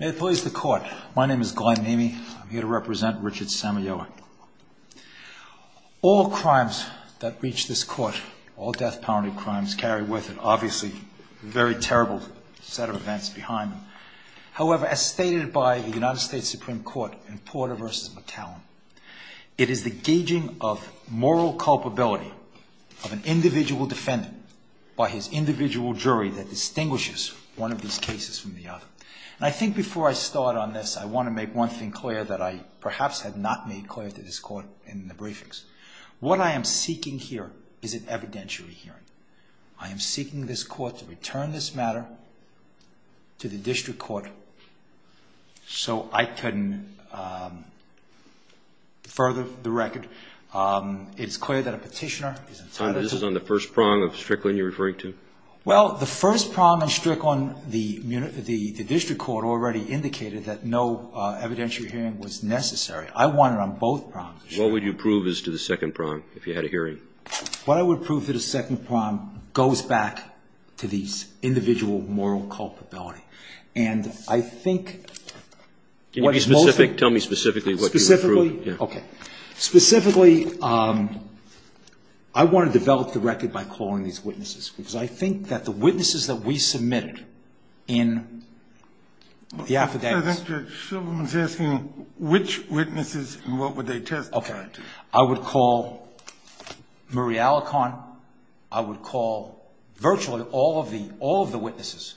May it please the Court, my name is Glenn Neamey. I'm here to represent Richard Samayoa. All crimes that reach this Court, all death penalty crimes, carry with it obviously a very terrible set of events behind them. However, as stated by the United States Supreme Court in Porter v. McCallum, it is the gauging of moral culpability of an individual defendant by his individual jury that distinguishes one of his cases from the other. And I think before I start on this, I want to make one thing clear that I perhaps had not made clear to this Court in the briefings. What I am seeking here is an evidentiary hearing. I am seeking this Court to return this matter to the District Court so I can further the record. It's clear that a petitioner is entitled to... Well, the first prong on Strickland, the District Court already indicated that no evidentiary hearing was necessary. I want it on both prongs. What would you prove as to the second prong if you had a hearing? What I would prove to the second prong goes back to the individual moral culpability. And I think... Can you tell me specifically what you would prove? Specifically, I want to develop the record by calling these witnesses. Because I think that the witnesses that we submitted in the affidavit... Which witnesses and what would they testify to? I would call Marie Alicorn. I would call virtually all of the witnesses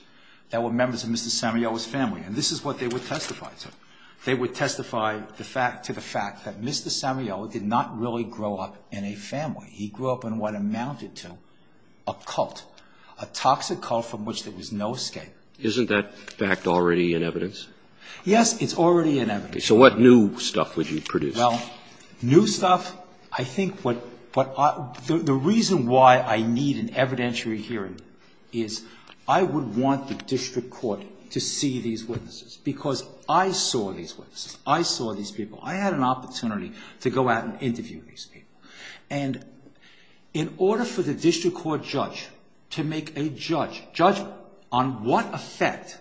that were members of Mr. Samuel's family. And this is what they would testify to. They would testify to the fact that Mr. Samuel did not really grow up in a family. He grew up in what amounted to a cult. A toxic cult from which there was no escape. Isn't that fact already in evidence? Yes, it's already in evidence. So what new stuff would you produce? Well, new stuff, I think what... The reason why I need an evidentiary hearing is I would want the District Court to see these witnesses. Because I saw these witnesses. I saw these people. I had an opportunity to go out and interview these people. And in order for the District Court judge to make a judgment on what effect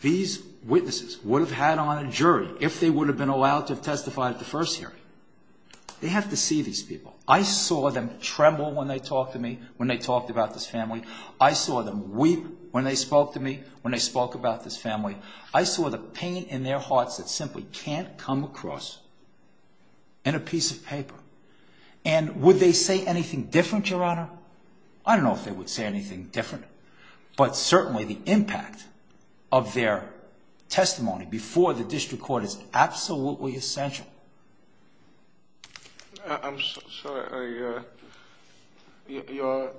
these witnesses would have had on a jury if they would have been allowed to testify at the first hearing, they have to see these people. I saw them tremble when they talked to me, when they talked about this family. I saw them weep when they spoke to me, when they spoke about this family. I saw the pain in their hearts that simply can't come across in a piece of paper. And would they say anything different, Your Honor? I don't know if they would say anything different. But certainly the impact of their testimony before the District Court is absolutely essential. I'm sorry, Your Honor. You're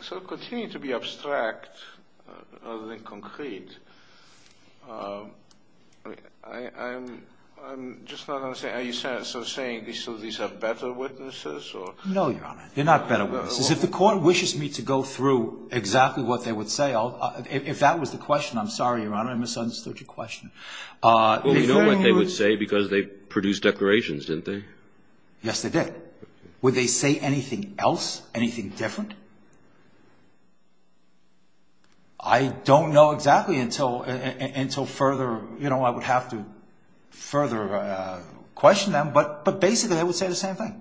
still continuing to be abstract rather than concrete. I'm just not understanding. Are you saying these are better witnesses? No, Your Honor. They're not better witnesses. If the court wishes me to go through exactly what they would say, if that was the question, I'm sorry, Your Honor. I misunderstood your question. Well, we know what they would say because they produced declarations, didn't they? Yes, they did. Would they say anything else, anything different? I don't know exactly until further, you know, I would have to further question them. But basically they would say the same thing.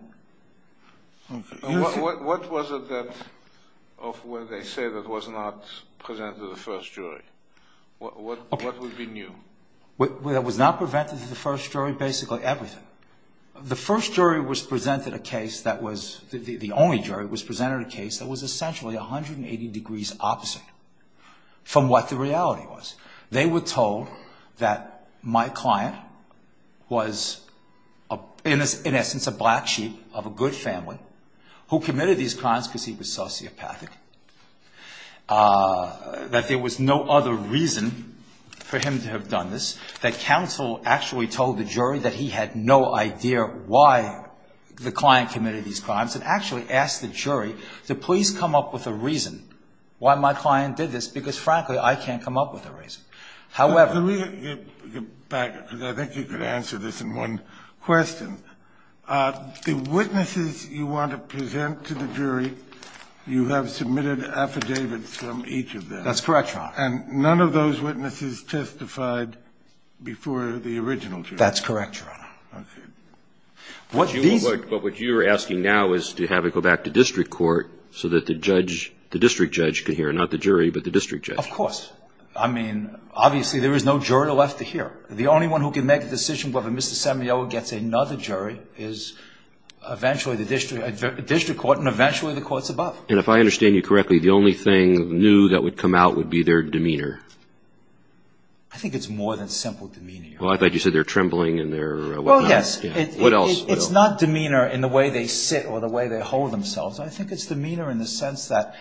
What was it that, of what they say that was not presented to the first jury? What would be new? What was not presented to the first jury, basically everything. The first jury was presented a case that was, the only jury, was presented a case that was essentially 180 degrees opposite from what the reality was. They were told that my client was, in essence, a black sheep of a good family who committed these crimes because he was sociopathic, that there was no other reason for him to have done this, that counsel actually told the jury that he had no idea why the client committed these crimes and actually asked the jury to please come up with a reason why my client did this because frankly I can't come up with a reason. However... Let me get back because I think you could answer this in one question. The witnesses you want to present to the jury, you have submitted affidavits from each of them. That's correct, Your Honor. And none of those witnesses testified before the original jury. That's correct, Your Honor. Okay. But what you're asking now is to have it go back to district court so that the district judge can hear, not the jury, but the district judge. Of course. I mean, obviously there is no jury left to hear. The only one who can make a decision whether Mr. Samuel gets another jury is eventually the district court and eventually the courts above. And if I understand you correctly, the only thing new that would come out would be their demeanor. I think it's more than simple demeanor. Well, I thought you said their trembling and their... Oh, yes. What else? It's not demeanor in the way they sit or the way they hold themselves. I think it's demeanor in the sense that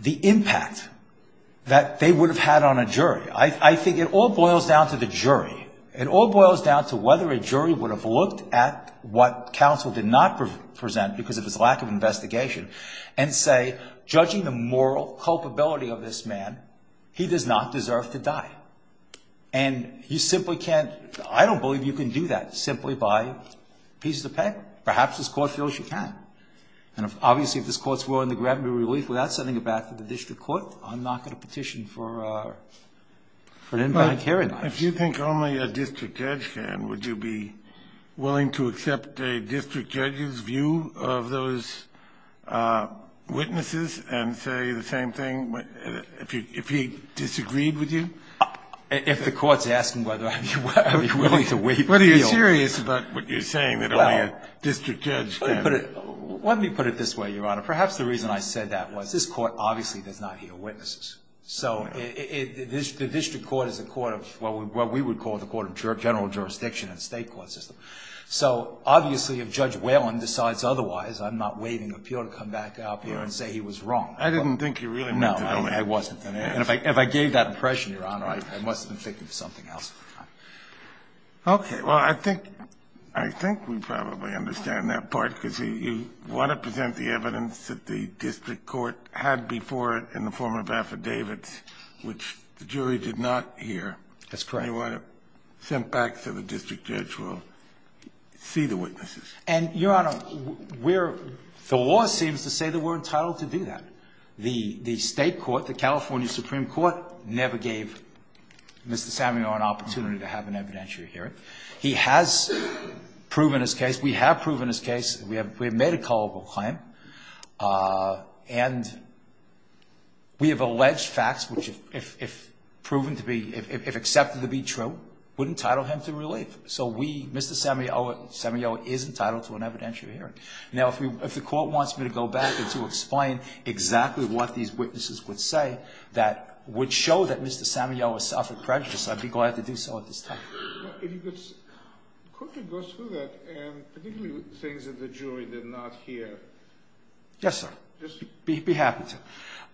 the impact that they would have had on a jury. I think it all boils down to the jury. It all boils down to whether a jury would have looked at what counsel did not present because of the lack of investigation and say, judging the moral culpability of this man, he does not deserve to die. And he simply can't... I don't believe you can do that simply by piece of paper, perhaps as closely as you can. And obviously if this court's willing to grant me relief without sending it back to the district court, I'm not going to petition for an inbound hearing. If you think only a district judge can, would you be willing to accept a district judge's view of those witnesses and say the same thing if he disagreed with you? If the court's asking whether I'd be willing to wait... Whether you're serious about what you're saying that a district judge... Let me put it this way, Your Honor. Perhaps the reason I said that was this court obviously does not hear witnesses. So the district court is a court of what we would call the court of general jurisdiction in the state court system. So obviously if Judge Whalen decides otherwise, I'm not waiting for him to come back out here and say he was wrong. I didn't think you really meant that. No, I wasn't. And if I gave that impression, Your Honor, I must have been thinking of something else. Okay, well, I think we probably understand that part because you want to present the evidence that the district court had before it in the form of affidavits, which the jury did not hear. That's correct. You want to send back to the district judge who will see the witnesses. And, Your Honor, the law seems to say that we're entitled to do that. The state court, the California Supreme Court, never gave Mr. Samuel an opportunity to have an evidentiary hearing. He has proven his case. We have proven his case. We have made a culpable claim. And we have alleged facts which, if accepted to be true, would entitle him to release. So Mr. Samuel is entitled to an evidentiary hearing. Now, if the court wants me to go back and to explain exactly what these witnesses would say that would show that Mr. Samuel has suffered prejudice, I'd be glad to do so at this time. If you could quickly go through that and the things that the jury did not hear. Yes, sir. Yes, sir. I'd be happy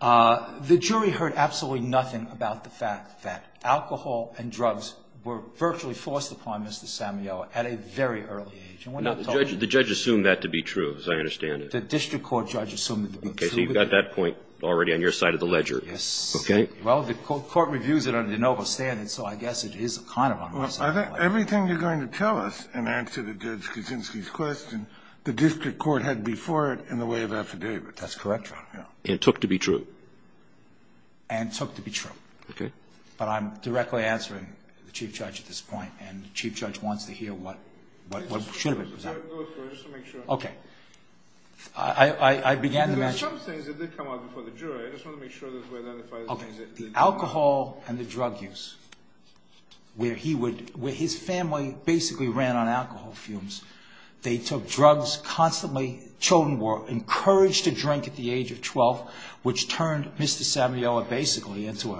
to. The jury heard absolutely nothing about the fact that alcohol and drugs were virtually forced upon Mr. Samuel at a very early age. Now, the judge assumed that to be true, as I understand it. The district court judge assumed that to be true. Okay, so you've got that point already on your side of the ledger. Yes. Okay. Well, the court reviews it under de novo standards, so I guess it is kind of on my side. Everything you're going to tell us in answer to Judge Kuczynski's question, the district court had before it in the way of affidavit. That's correct, Your Honor. And took to be true. And took to be true. Okay. But I'm directly answering the chief judge at this point, and the chief judge wants to hear what the truth is. Go ahead, sir. Just to make sure. Okay. I began to mention – There were some things that did come up before the jury. I just want to make sure that we're identifying – Okay. The alcohol and the drug use, where his family basically ran on alcohol fumes. They took drugs constantly. They encouraged a drink at the age of 12, which turned Mr. Samioa basically into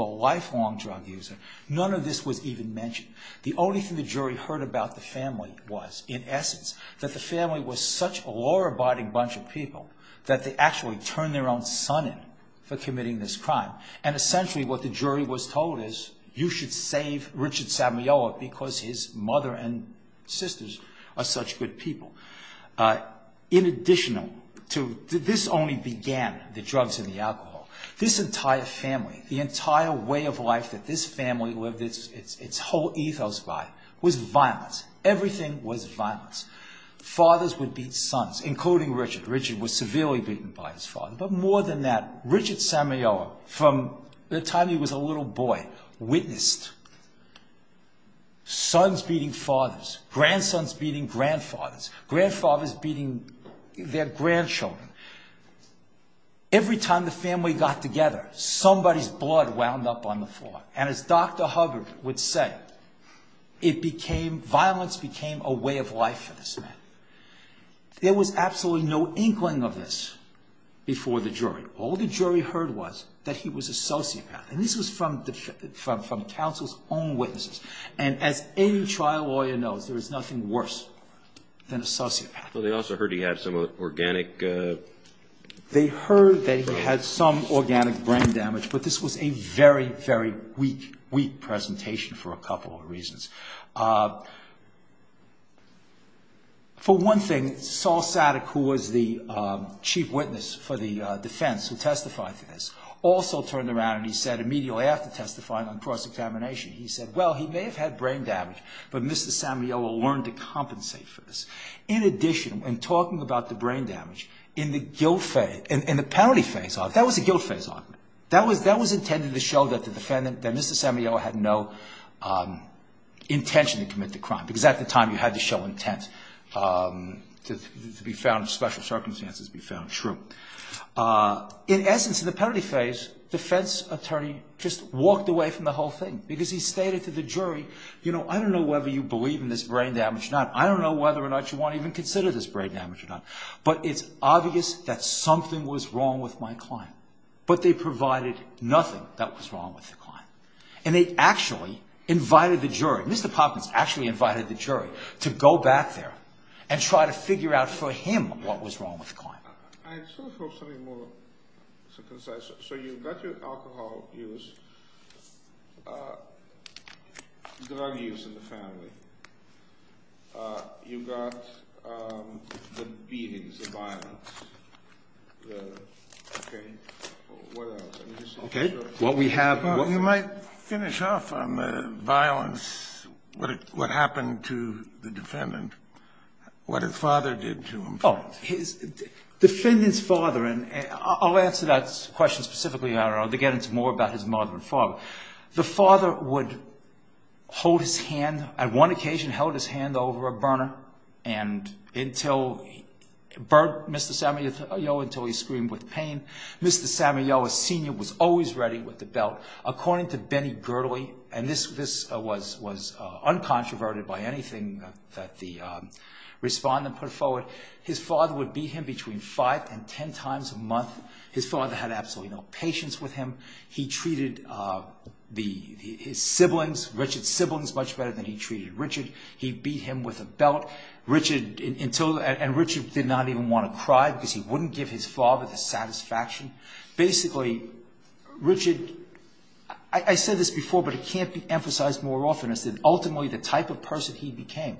a lifelong drug user. None of this was even mentioned. The only thing the jury heard about the family was, in essence, that the family was such a law-abiding bunch of people that they actually turned their own son in for committing this crime. And essentially what the jury was told is, you should save Richard Samioa because his mother and sisters are such good people. In addition to – this only began, the drugs and the alcohol. This entire family, the entire way of life that this family lived, its whole ethos by, was violent. Everything was violent. Fathers would beat sons, including Richard. Richard was severely beaten by his father. But more than that, Richard Samioa, from the time he was a little boy, witnessed sons beating fathers, grandsons beating grandfathers, grandfathers beating their grandchildren. Every time the family got together, somebody's blood wound up on the floor. And as Dr. Hubbard would say, it became – violence became a way of life for this man. There was absolutely no inkling of this before the jury. All the jury heard was that he was a sociopath. And this was from counsel's own witnesses. And as any trial lawyer knows, there is nothing worse than a sociopath. Well, they also heard he had some organic – They heard they had some organic brain damage, but this was a very, very weak, weak presentation for a couple of reasons. For one thing, Saul Sadek, who was the chief witness for the defense who testified to this, also turned around and he said immediately after testifying on cross-examination, he said, Well, he may have had brain damage, but Mr. Samioa learned to compensate for this. In addition, in talking about the brain damage, in the guilt phase, in the penalty phase, that was the guilt phase. That was intended to show that the defendant, Mr. Samioa, had no intention to commit the crime, because at the time you had to show intent to be found in special circumstances to be found true. In essence, in the penalty phase, defense attorney just walked away from the whole thing, because he stated to the jury, You know, I don't know whether you believe in this brain damage or not. I don't know whether or not you want to even consider this brain damage or not. But it's obvious that something was wrong with my client. But they provided nothing that was wrong with the client. And they actually invited the jury. Mr. Poppins actually invited the jury to go back there and try to figure out for him what was wrong with the client. I just want to throw something more to the side. So you've got your alcohol use, drug use in the family. You've got the beatings, the violence. Okay. What else? Okay. You might finish off on the violence, what happened to the defendant, what his father did to him. Oh, the defendant's father. I'll answer that question specifically. I don't know. Again, it's more about his mother and father. The father would hold his hand, on one occasion held his hand over a burner and burnt Mr. Samuel until he screamed with pain. Mr. Samuel, a senior, was always ready with the belt. According to Benny Girdley, and this was uncontroverted by anything that the respondent put forward, his father would beat him between five and ten times a month. His father had absolutely no patience with him. He treated his siblings, Richard's siblings, much better than he treated Richard. He beat him with a belt. And Richard did not even want to cry because he wouldn't give his father the satisfaction. Basically, Richard, I said this before, but it can't be emphasized more often, is that ultimately the type of person he became,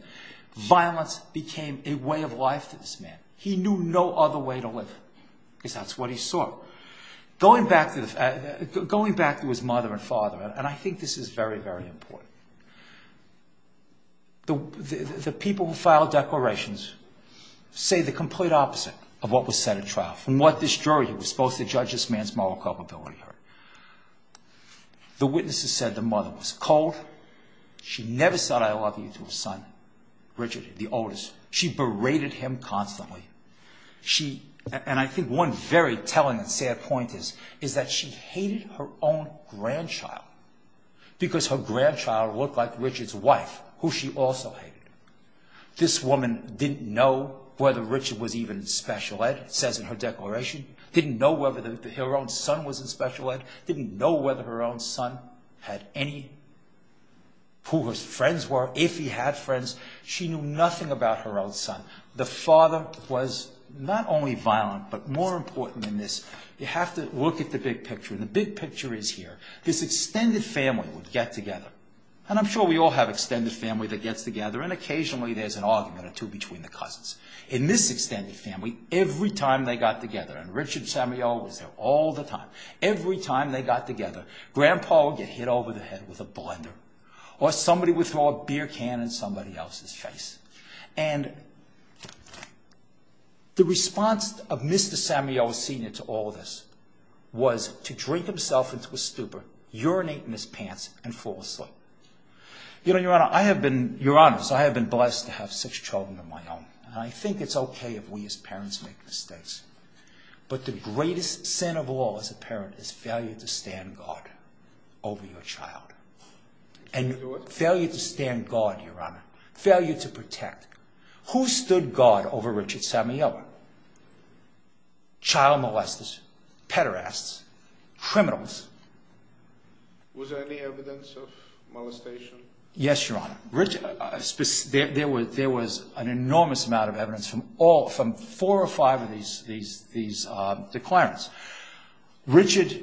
violence became a way of life for this man. He knew no other way to live. That's what he saw. Going back to his mother and father, and I think this is very, very important, the people who filed declarations say the complete opposite of what was said at trial. And what the jury was supposed to judge this man's moral culpability. The witnesses said the mother was cold. She never said I love you to her son, Richard, the oldest. She berated him constantly. And I think one very telling sad point is that she hated her own grandchild because her grandchild looked like Richard's wife, who she also hated. This woman didn't know whether Richard was even special ed, says in her declaration, didn't know whether her own son was in special ed, didn't know whether her own son had any, who his friends were, if he had friends. She knew nothing about her own son. The father was not only violent, but more important than this, you have to look at the big picture, and the big picture is here. This extended family would get together, and I'm sure we all have extended families that get together, and occasionally there's an argument or two between the cousins. In this extended family, every time they got together, and Richard Samuel was there all the time, every time they got together, Grandpa would get hit over the head with a blender, or somebody would throw a beer can in somebody else's face. And the response of Mr. Samuel Sr. to all this was to drink himself into a stupor, urinate in his pants, and fall asleep. You know, Your Honor, I have been blessed to have such children of my own, and I think it's okay if we as parents make mistakes, but the greatest sin of all as a parent is failure to stand guard over your child. And failure to stand guard, Your Honor, failure to protect. Who stood guard over Richard Samuel? Child molesters, pederasts, criminals. Was there any evidence of molestation? Yes, Your Honor. There was an enormous amount of evidence from four or five of these declarants. Richard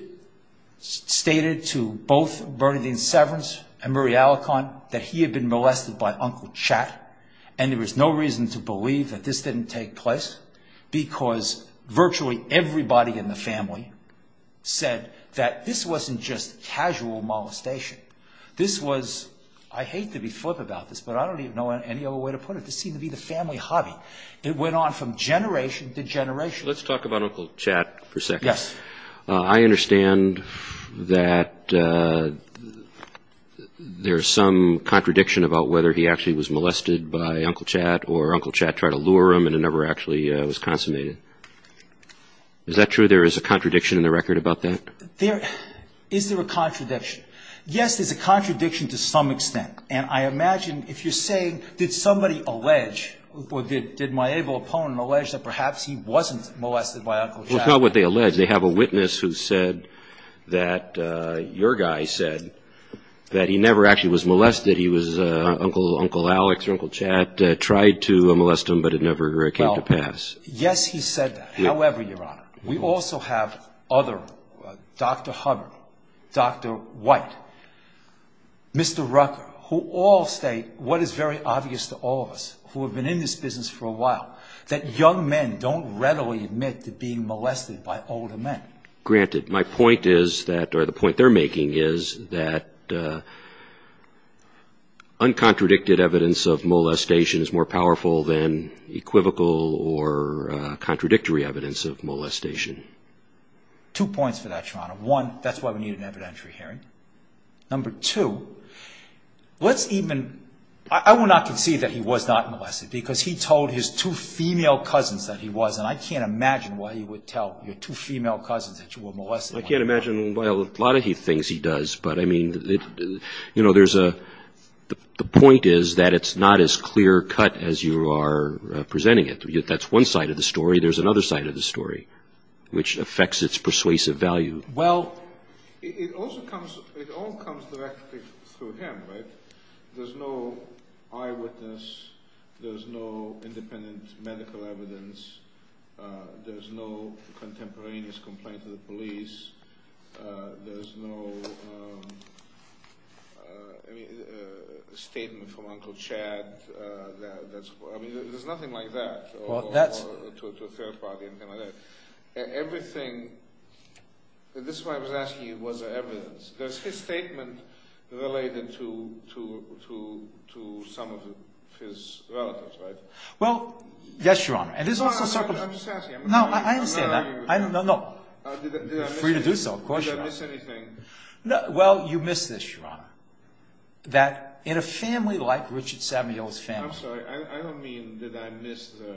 stated to both Bernadine Severance and Marie Alicant that he had been molested by Uncle Chad, and there was no reason to believe that this didn't take place because virtually everybody in the family said that this wasn't just casual molestation. This was, I hate to be flip about this, but I don't even know any other way to put it. This seemed to be the family hobby. It went on from generation to generation. Let's talk about Uncle Chad for a second. Yes. I understand that there's some contradiction about whether he actually was molested by Uncle Chad or Uncle Chad tried to lure him and it never actually was consummated. Is that true? There is a contradiction in the record about that? Is there a contradiction? Yes, there's a contradiction to some extent, and I imagine if you're saying, did somebody allege, Well, it's not what they allege. They have a witness who said that your guy said that he never actually was molested. He was Uncle Alex or Uncle Chad tried to molest him, but it never came to pass. Yes, he said that. However, Your Honor, we also have other, Dr. Hubbard, Dr. White, Mr. Rucker, who all say what is very obvious to all of us who have been in this business for a while, that young men don't readily admit to being molested by older men. Granted. My point is that, or the point they're making is that uncontradicted evidence of molestation is more powerful than equivocal or contradictory evidence of molestation. Two points to that, Your Honor. One, that's why we need an evidentiary hearing. Number two, let's even, I will not concede that he was not molested because he told his two female cousins that he was, and I can't imagine why he would tell your two female cousins that you were molested. I can't imagine why a lot of things he does, but I mean, you know, there's a, the point is that it's not as clear cut as you are presenting it. That's one side of the story. There's another side of the story, which affects its persuasive value. Well, it also comes, it all comes directly to him, right? There's no eyewitness. There's no independent medical evidence. There's no contemporaneous complaint to the police. There's no statement from Uncle Chad. I mean, there's nothing like that to a third party. And everything, this is why I was asking you, was there evidence? There's his statement related to some of his relatives, right? Well, yes, Your Honor. I'm just asking. No, I understand that. Did I miss anything? For you to do so, of course you must. Did I miss anything? Well, you missed this, Your Honor, that in a family like Richard Samuel's family. I'm sorry. I don't mean did I miss the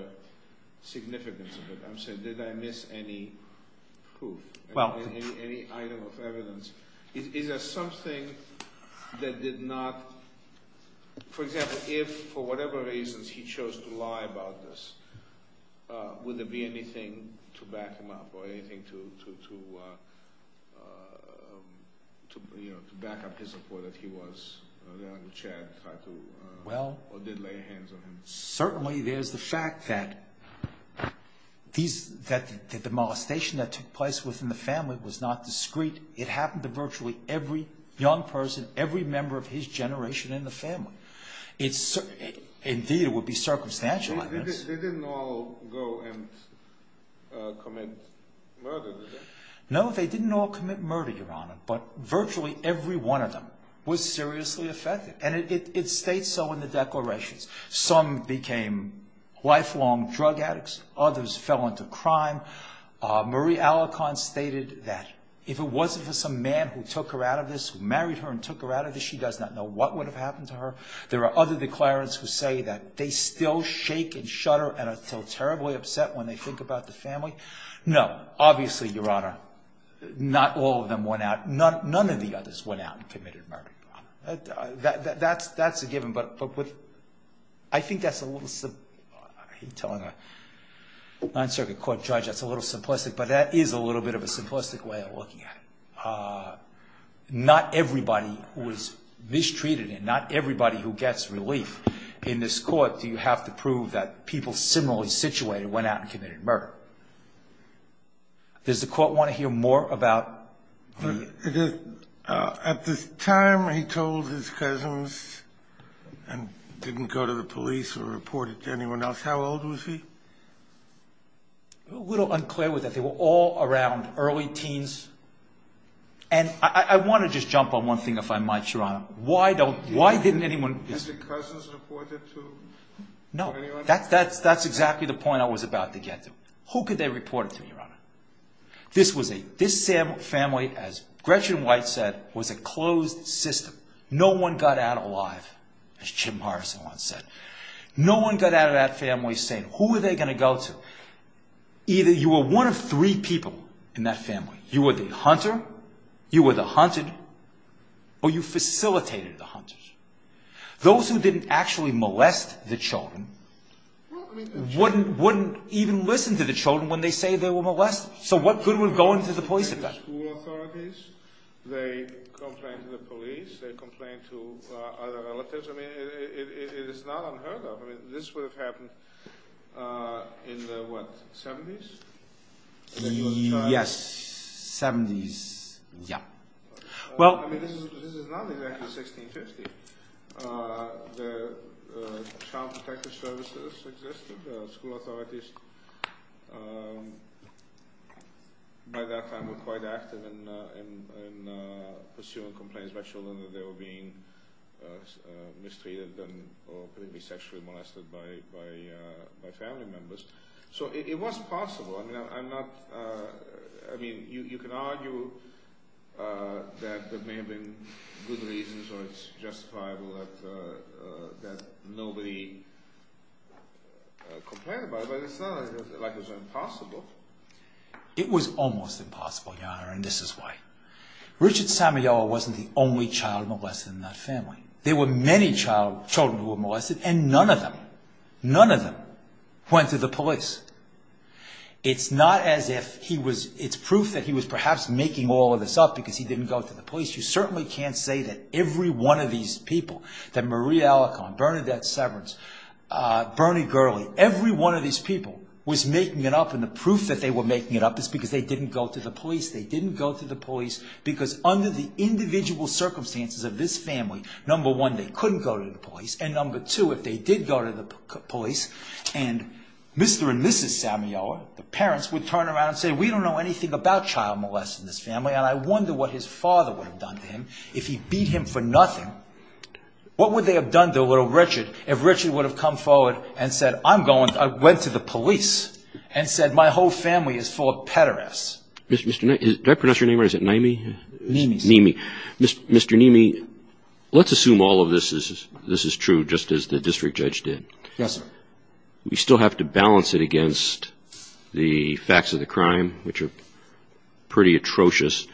significance of it. I'm saying did I miss any proof, any item of evidence. Is there something that did not, for example, if for whatever reasons he chose to lie about this, would there be anything to back him up or anything to back up his support if he was Uncle Chad or did lay hands on him? Well, certainly there's the fact that the demolition that took place within the family was not discreet. It happened to virtually every young person, every member of his generation in the family. Indeed, it would be circumstantial evidence. They didn't all go and commit murder, did they? No, they didn't all commit murder, Your Honor, but virtually every one of them was seriously affected. And it states so in the declarations. Some became lifelong drug addicts. Others fell into crime. Marie Alicorn stated that if it wasn't for some man who took her out of this, who married her and took her out of this, she does not know what would have happened to her. There are other declarants who say that they still shake and shudder and are still terribly upset when they think about the family. No, obviously, Your Honor, not all of them went out. None of the others went out and committed murder, Your Honor. That's a given. I think that's a little simplistic. But that is a little bit of a simplistic way of looking at it. Not everybody was mistreated and not everybody who gets relief in this court. You have to prove that people similarly situated went out and committed murder. Does the court want to hear more about? At the time he told his cousins and didn't go to the police or report it to anyone else, how old was he? A little unclear with that. They were all around early teens. And I want to just jump on one thing, if I might, Your Honor. Why didn't anyone... Did the cousins report it to anyone else? No, that's exactly the point I was about to get to. Who could they report it to, Your Honor? This family, as Gretchen White said, was a closed system. No one got out alive, as Jim Morrison once said. No one got out of that family saying, who are they going to go to? Either you were one of three people in that family. You were the hunter, you were the hunted, or you facilitated the hunters. Those who didn't actually molest the children wouldn't even listen to the children when they say they were molested. So what good would going to the police have done? The school authorities, they complained to the police, they complained to other relatives. I mean, it is not unheard of. This would have happened in the, what, 70s? Yes, 70s. Yeah. I mean, this is not exactly 1650. The counterfeiter services existed. The school authorities, by that time, were quite active in pursuing complaints by children that they were being mistreated or being sexually molested by family members. So it wasn't possible. I mean, I'm not, I mean, you can argue that there may have been good reasons or a justifiable, that nobody complained about it, but it's not like it was impossible. It was almost impossible, Your Honor, and this is why. Richard Samuel wasn't the only child molested in that family. There were many children who were molested, and none of them, none of them went to the police. It's not as if he was, it's proof that he was perhaps making all of this up because he didn't go to the police. You certainly can't say that every one of these people, that Marie Alacon, Bernadette Severance, Bernie Gurley, every one of these people was making it up, and the proof that they were making it up is because they didn't go to the police. They didn't go to the police because under the individual circumstances of this family, number one, they couldn't go to the police, and number two, if they did go to the police, and Mr. and Mrs. Samuel, the parents, would turn around and say, we don't know anything about child molesting in this family, and I wonder what his father would have done to him if he beat him for nothing. What would they have done to little Richard if Richard would have come forward and said, I'm going, I'm going to the police, and said, my whole family is full of pederasts. Mr. Neamey, let's assume all of this is true, just as the district judge did. We still have to balance it against the facts of the crime, which are pretty atrocious,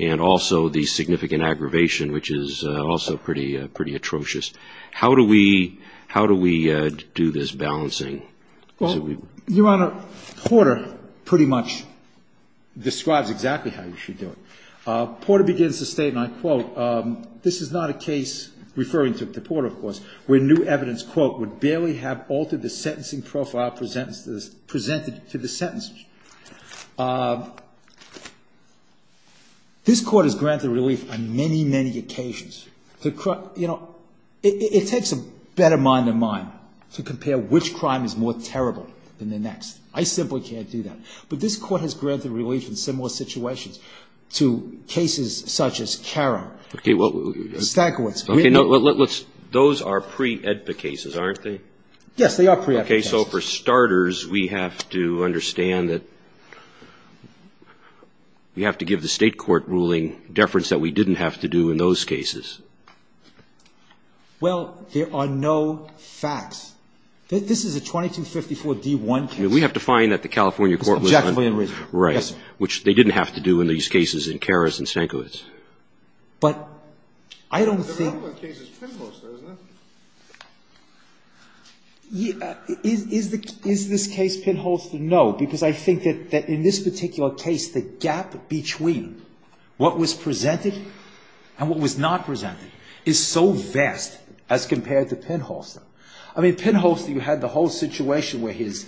and also the significant aggravation, which is also pretty atrocious. How do we do this balancing? Your Honor, Porter pretty much describes exactly how you should do it. Porter begins to state, and I quote, this is not a case, referring to Porter, of course, where new evidence, quote, would barely have altered the sentencing profile presented to the sentence. This Court has granted relief on many, many occasions. You know, it takes a better mind than mine to compare which crime is more terrible than the next. I simply can't do that. But this Court has granted relief in similar situations to cases such as Karen. Those are pre-EDPA cases, aren't they? Yes, they are pre-EDPA cases. Okay, so for starters, we have to understand that we have to give the State Court ruling deference that we didn't have to do in those cases. Well, there are no facts. This is a 2254-D1 case. We have to find that the California court was unjustified. Right, which they didn't have to do in these cases in Karis and Sankowitz. But, I don't think... Is this case Pinholster? No, because I think that in this particular case, the gap between what was presented and what was not presented is so vast as compared to Pinholster. I mean, Pinholster, you had the whole situation where his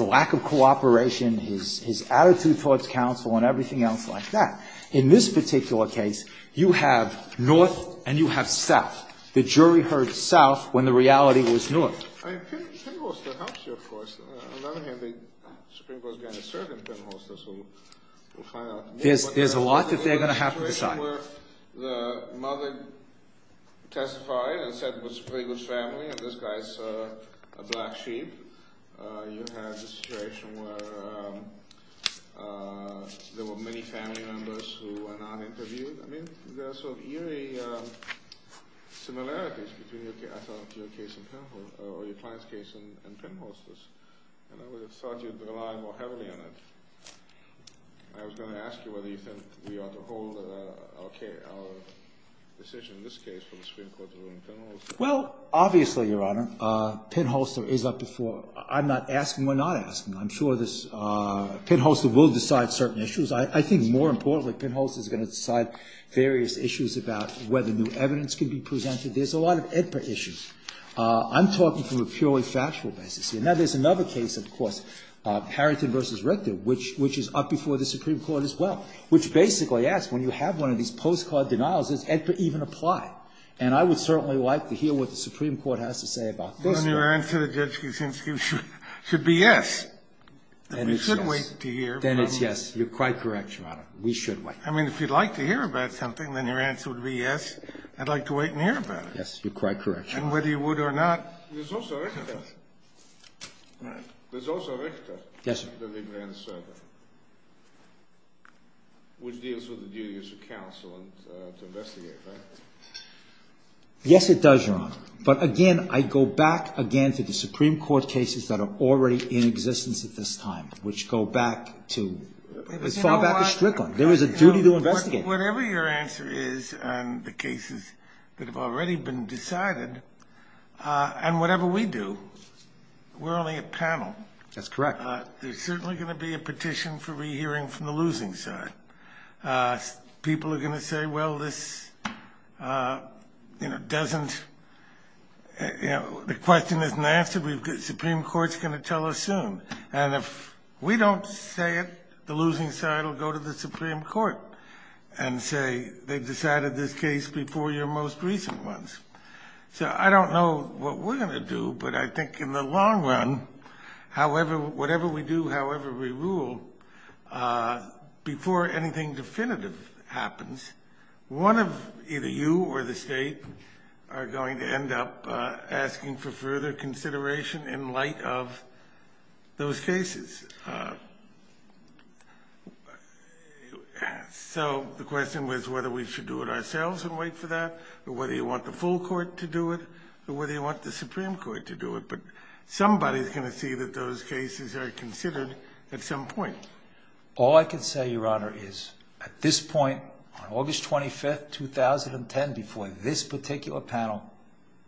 lack of cooperation, his attitude towards counsel, and everything else like that. In this particular case, you have North and you have South. The jury heard South when the reality was North. I mean, Pinholster helps you, of course. On the other hand, the Supreme Court is going to serve in Pinholster, so we'll find out. There's a lot that they're going to have to decide. You have the situation where the mother testified and said it was Prigo's family and this guy is a black sheep. You have the situation where there were many family members who were not interviewed. I mean, there are some eerie similarities between your client's case and Pinholster's. And I would have thought you'd rely more heavily on it. I was going to ask you whether you think we ought to hold our decision in this case from the Supreme Court's ruling Pinholster. Well, obviously, Your Honor, Pinholster is up to four. I'm not asking, we're not asking. I'm sure Pinholster will decide certain issues. I think more importantly, Pinholster is going to decide various issues about whether new evidence can be presented. There's a lot of EDPA issues. I'm talking from a purely factual basis. Now, there's another case, of course, Harrington v. Richter, which is up before the Supreme Court as well, which basically asks when you have one of these postcard denials, does EDPA even apply? And I would certainly like to hear what the Supreme Court has to say about this. Well, then your answer to the judge should be yes. You should wait to hear. Then it's yes. You're quite correct, Your Honor. We should wait. I mean, if you'd like to hear about something, then your answer would be yes. I'd like to wait and hear about it. Yes, you're quite correct. And whether you would or not. There's also Richter. All right. There's also Richter. Yes, sir. The mid-range server, which deals with the duties of counsel and to investigate, right? Yes, it does, Your Honor. But, again, I'd go back, again, to the Supreme Court cases that are already in existence at this time, which go back to, fall back to Strickland. There is a duty to investigate. Whatever your answer is on the cases that have already been decided, and whatever we do, we're only a panel. That's correct. There's certainly going to be a petition for rehearing from the losing side. People are going to say, well, this doesn't – the question isn't answered. The Supreme Court is going to tell us soon. And if we don't say it, the losing side will go to the Supreme Court and say they've decided this case before your most recent ones. So I don't know what we're going to do. But I think in the long run, however – whatever we do, however we rule, before anything definitive happens, one of either you or the State are going to end up asking for further consideration in light of those cases. So the question was whether we should do it ourselves and wait for that, or whether you want the full court to do it, or whether you want the Supreme Court to do it. But somebody's going to see that those cases are considered at some point. All I can say, Your Honor, is at this point, on August 25th, 2010, before this particular panel,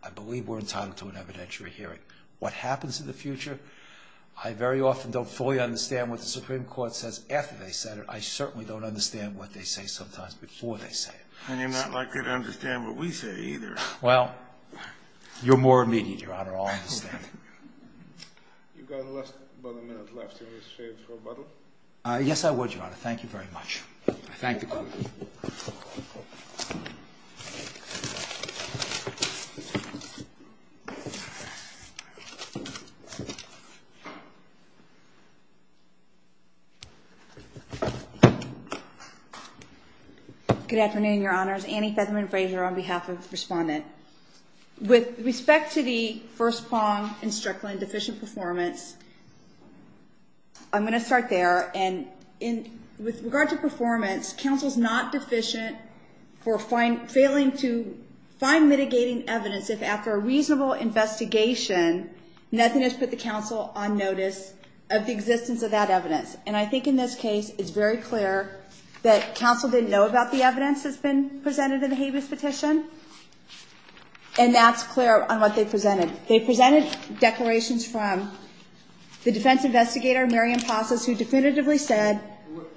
I believe we're entitled to an evidentiary hearing. What happens in the future, I very often don't fully understand what the Supreme Court says after they said it. I certainly don't understand what they say sometimes before they say it. And you're not likely to understand what we say either. Well, you're more immediate, Your Honor. I'll understand. You've got about a minute left. Do you want to say a few words? Yes, I would, Your Honor. Thank you very much. Thank you. Good afternoon, Your Honors. Annie Featherman Fraser on behalf of the Respondent. With respect to the First Pong and Strickland deficient performance, I'm going to start there. And with regard to performance, counsel's not deficient for failing to find mitigating evidence if after a reasonable investigation, nothing has put the counsel on notice of the existence of that evidence. And I think in this case, it's very clear that counsel didn't know about the evidence that's been presented in the habeas petition. And that's clear on what they presented. They presented declarations from the defense investigator, Miriam Passos, who definitively said Well,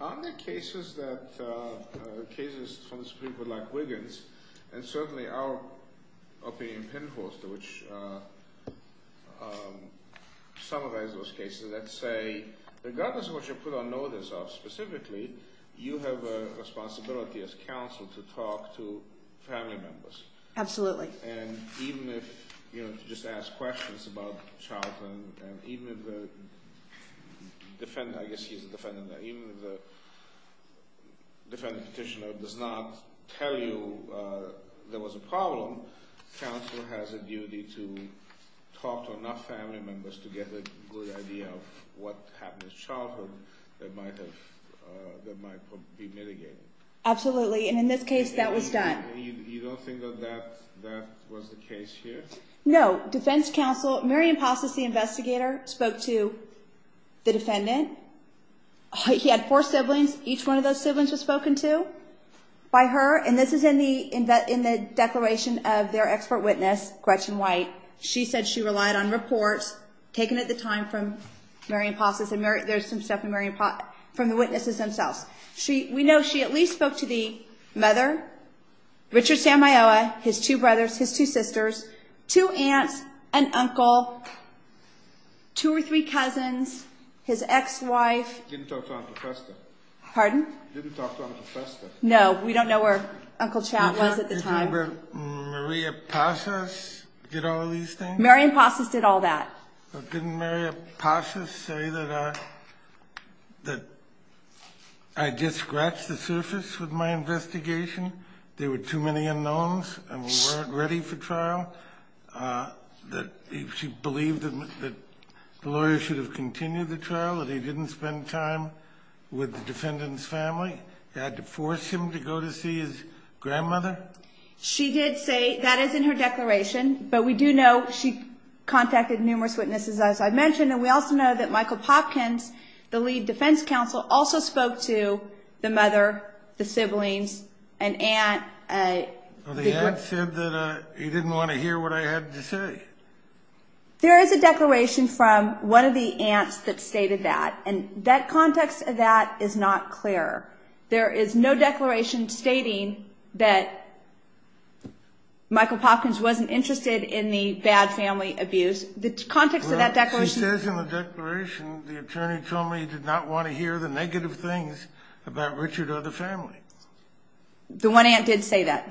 on the cases that, or cases from the Supreme Court, like Wiggins, and certainly our opinion, Pinhole, which summarized those cases that say, regardless of what you put on notice of, specifically, you have a responsibility as counsel to talk to family members. Absolutely. And even if, you know, just ask questions about childhood, and even if the defendant, I guess he's a defendant, even if the defendant's petitioner does not tell you there was a problem, counsel has a duty to talk to enough family members to get a good idea of what happened as childhood that might be mitigated. Absolutely. And in this case, that was done. You don't think that that was the case here? No. Defense counsel, Miriam Passos, the investigator, spoke to the defendant. He had four siblings. Each one of those siblings was spoken to by her. And this is in the declaration of their expert witness, Gretchen White. She said she relied on reports taken at the time from Miriam Passos. And there's some stuff from the witnesses themselves. We know she at least spoke to the mother, Richard Samioa, his two brothers, his two sisters, two aunts, an uncle, two or three cousins, his ex-wife. Didn't talk to Uncle Chester. Pardon? Didn't talk to Uncle Chester. No, we don't know where Uncle Chet was at the time. Didn't Miriam Passos get all these things? Miriam Passos did all that. Didn't Miriam Passos say that I just scratched the surface with my investigation? There were too many unknowns and we weren't ready for trial? That she believed that the lawyer should have continued the trial, that he didn't spend time with the defendant's family? They had to force him to go to see his grandmother? She did say that is in her declaration. But we do know she contacted numerous witnesses, as I mentioned. And we also know that Michael Hopkins, the lead defense counsel, also spoke to the mother, the siblings, an aunt. The aunt said that he didn't want to hear what I had to say. There is a declaration from one of the aunts that stated that. And the context of that is not clear. There is no declaration stating that Michael Hopkins wasn't interested in the bad family abuse. The context of that declaration- She says in the declaration the attorney told me he did not want to hear the negative things about Richard or the family. The one aunt did say that.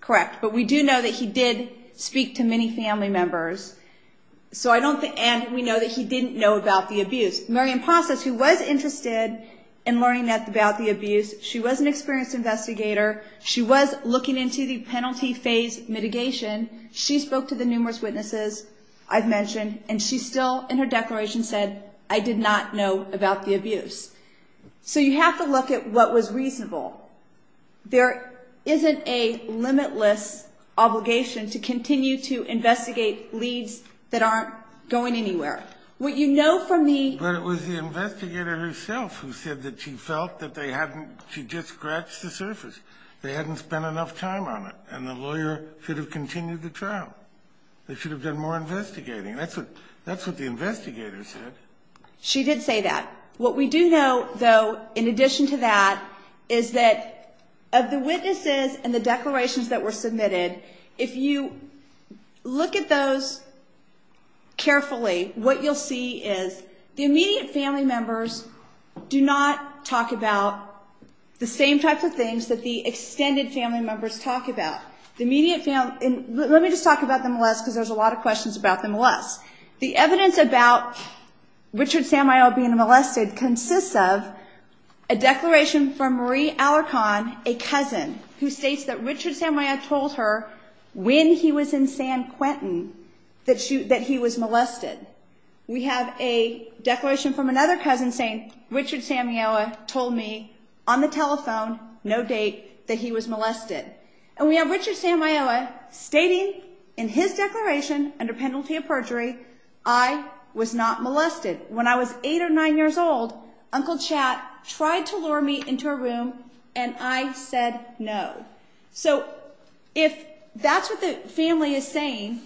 Correct. But we do know that he did speak to many family members. And we know that he didn't know about the abuse. Maryam Pasha, she was interested in learning about the abuse. She was an experienced investigator. She was looking into the penalty phase mitigation. She spoke to the numerous witnesses I've mentioned. And she still, in her declaration, said, I did not know about the abuse. So you have to look at what was reasonable. There isn't a limitless obligation to continue to investigate leads that aren't going anywhere. What you know from the- But it was the investigator herself who said that she felt that they hadn't-she just scratched the surface. They hadn't spent enough time on it. And the lawyer should have continued the trial. They should have been more investigating. That's what the investigator said. She did say that. What we do know, though, in addition to that, is that of the witnesses and the declarations that were submitted, if you look at those carefully, what you'll see is the immediate family members do not talk about the same types of things that the extended family members talk about. The immediate family-and let me just talk about the molest, because there's a lot of questions about the molest. The evidence about Richard Samuel being molested consists of a declaration from Marie Alicon, a cousin, who states that Richard Samuel told her when he was in San Quentin that he was molested. We have a declaration from another cousin saying, Richard Samuel told me on the telephone, no date, that he was molested. And we have Richard Samuel stating in his declaration under penalty of perjury, I was not molested. When I was eight or nine years old, Uncle Chad tried to lure me into a room, and I said no. So if that's what the family is saying,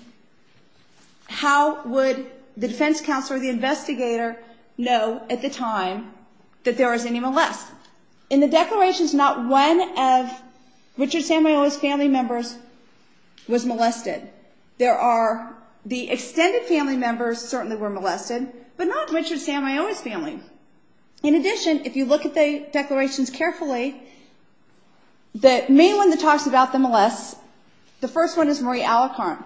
how would the defense counsel or the investigator know at the time that there was any molest? In the declarations, not one of Richard Samuel's family members was molested. The extended family members certainly were molested, but not Richard Samuel's family. In addition, if you look at the declarations carefully, the main one that talks about the molest, the first one is Marie Alicon.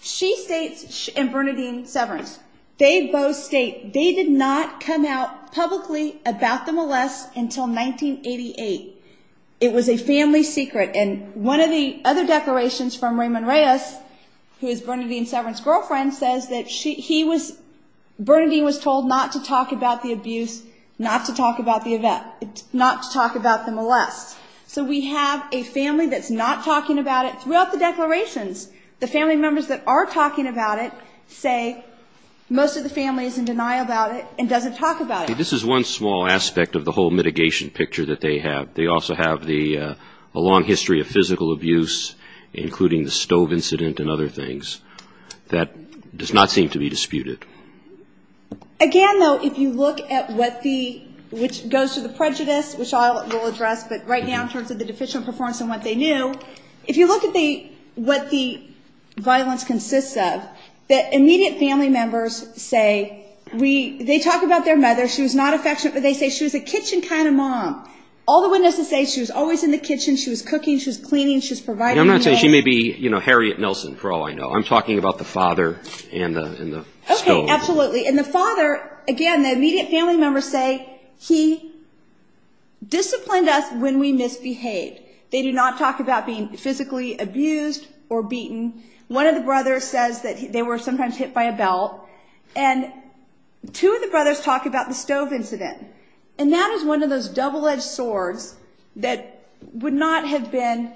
She states, and Bernadine Severance, they both state they did not come out publicly about the molest until 1988. It was a family secret, and one of the other declarations from Raymond Reyes, who is Bernadine Severance's girlfriend, says that Bernadine was told not to talk about the abuse, not to talk about the molest. So we have a family that's not talking about it. Throughout the declarations, the family members that are talking about it say most of the families can deny about it and doesn't talk about it. This is one small aspect of the whole mitigation picture that they have. They also have a long history of physical abuse, including the stove incident and other things. That does not seem to be disputed. Again, though, if you look at what the, which goes to the prejudice, which I will address right now in terms of the deficient performance and what they knew, if you look at what the violence consists of, the immediate family members say, they talk about their mother. She was not affectionate, but they say she was a kitchen kind of mom. All the witnesses say she was always in the kitchen. She was cooking. She was cleaning. She was providing. She may be Harriet Nelson, for all I know. I'm talking about the father and the stove. Absolutely. And the father, again, the immediate family members say, he disciplined us when we misbehaved. They did not talk about being physically abused or beaten. One of the brothers says that they were sometimes hit by a belt. And two of the brothers talk about the stove incident. And that is one of those double-edged swords that would not have been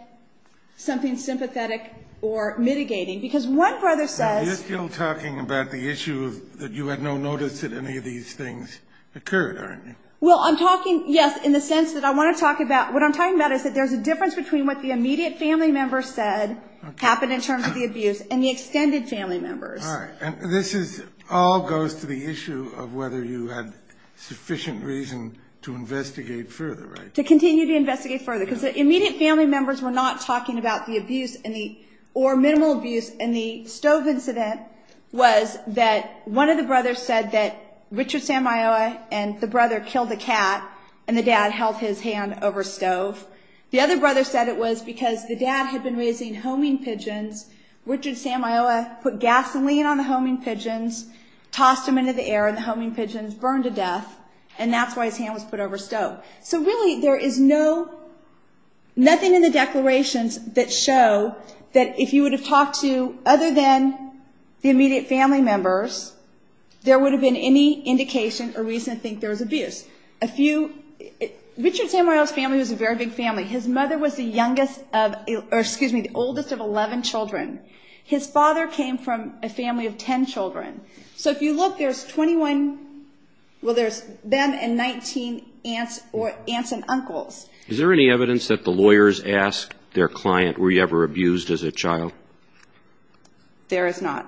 something sympathetic or mitigating because one brother says. You're still talking about the issue that you had no notice that any of these things occurred, aren't you? Well, I'm talking, yes, in the sense that I want to talk about. What I'm talking about is that there's a difference between what the immediate family members said happened in terms of the abuse and the extended family members. All right. And this all goes to the issue of whether you had sufficient reason to investigate further, right? To continue to investigate further. Because the immediate family members were not talking about the abuse or minimal abuse. And the stove incident was that one of the brothers said that Richard Samioa and the brother killed a cat and the dad held his hand over a stove. The other brother said it was because the dad had been raising homing pigeons. Richard Samioa put gasoline on the homing pigeons, tossed them into the air, and the homing pigeons burned to death. And that's why his hand was put over a stove. So, really, there is nothing in the declarations that show that if you would have talked to other than the immediate family members, there would have been any indication or reason to think there was abuse. Richard Samioa's family was a very big family. His mother was the oldest of 11 children. His father came from a family of 10 children. So if you look, there's 21, well, there's them and 19 aunts and uncles. Is there any evidence that the lawyers asked their client, were you ever abused as a child? There is not.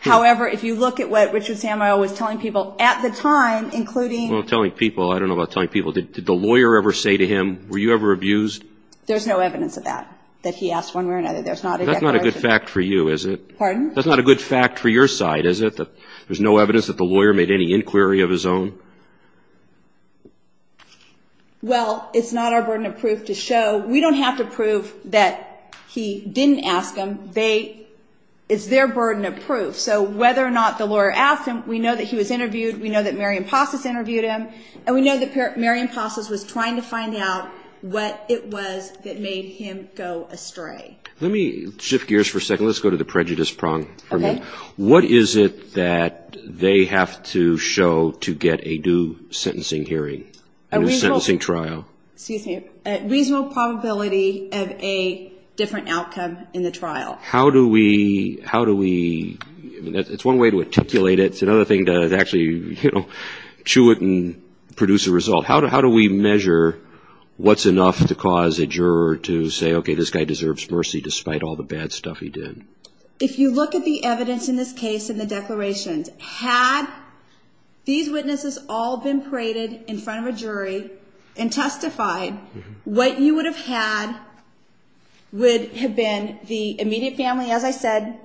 However, if you look at what Richard Samioa was telling people at the time, including... Well, telling people, I don't know about telling people. Did the lawyer ever say to him, were you ever abused? There's no evidence of that, that he asked one way or another. That's not a good fact for you, is it? Pardon? That's not a good fact for your side, is it, that there's no evidence that the lawyer made any inquiry of his own? Well, it's not our burden of proof to show. We don't have to prove that he didn't ask them. It's their burden of proof. So whether or not the lawyer asked him, we know that he was interviewed. We know that Mary Impossus interviewed him. And we know that Mary Impossus was trying to find out what it was that made him go astray. Let me shift gears for a second. Let's go to the prejudice prong for a minute. What is it that they have to show to get a due sentencing hearing in a sentencing trial? Excuse me. A reasonable probability of a different outcome in the trial. How do we... It's one way to articulate it. It's another thing to actually chew it and produce a result. How do we measure what's enough to cause a juror to say, okay, this guy deserves mercy despite all the bad stuff he did? If you look at the evidence in this case and the declarations, had these witnesses all been paraded in front of a jury and testified, what you would have had would have been the immediate family, as I said,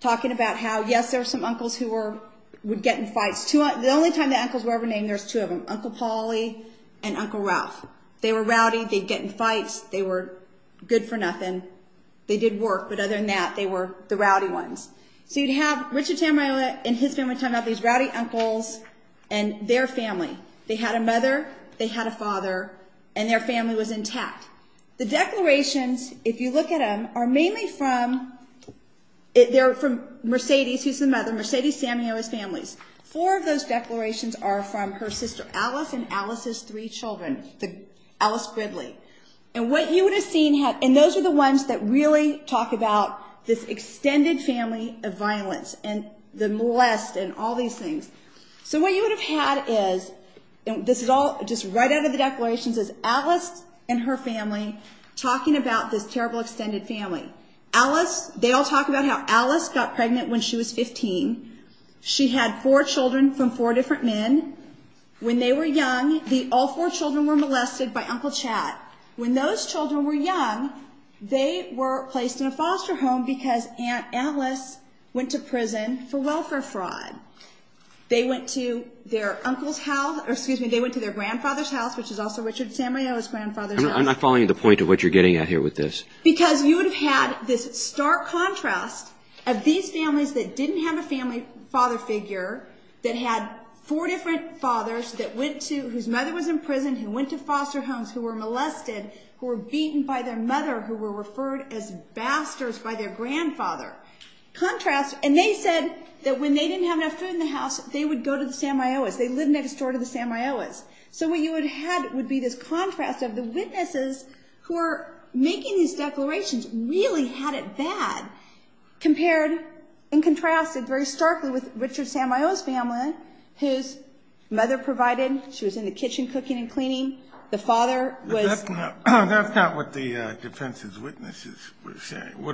talking about how, yes, there's some uncles who would get in fights. The only time the uncles were ever named, there's two of them, Uncle Pauly and Uncle Ralph. They were rowdy. They'd get in fights. They were good for nothing. They did work. But other than that, they were the rowdy ones. So you'd have Richard Samuela and Ted Samuela turn out these rowdy uncles and their family. They had a mother. They had a father. And their family was intact. The declarations, if you look at them, are mainly from Mercedes. She's the mother. Mercedes Samuela's family. Four of those declarations are from her sister Alice and Alice's three children, Alice Gribley. And what you would have seen, and those are the ones that really talk about this extended family of violence and the molest and all these things. So what you would have had is, and this is all just right out of the declarations, is Alice and her family talking about this terrible extended family. They all talk about how Alice got pregnant when she was 15. She had four children from four different men. When they were young, all four children were molested by Uncle Chad. When those children were young, they were placed in a foster home because Alice went to prison for welfare fraud. They went to their grandfather's house, which is also Richard Samuela's grandfather's house. I'm not following the point of what you're getting at here with this. Because you would have had this stark contrast of these families that didn't have a family father figure, that had four different fathers whose mother was in prison, who went to foster homes, who were molested, who were beaten by their mother, who were referred as bastards by their grandfather. And they said that when they didn't have enough food in the house, they would go to the Samuelas. They lived next door to the Samuelas. So what you would have would be this contrast of the witnesses who are making these declarations really had it bad compared and contrasted very starkly with Richard Samuela's family, whose mother provided. She was in the kitchen cooking and cleaning. The father was— That's not what the defense's witnesses would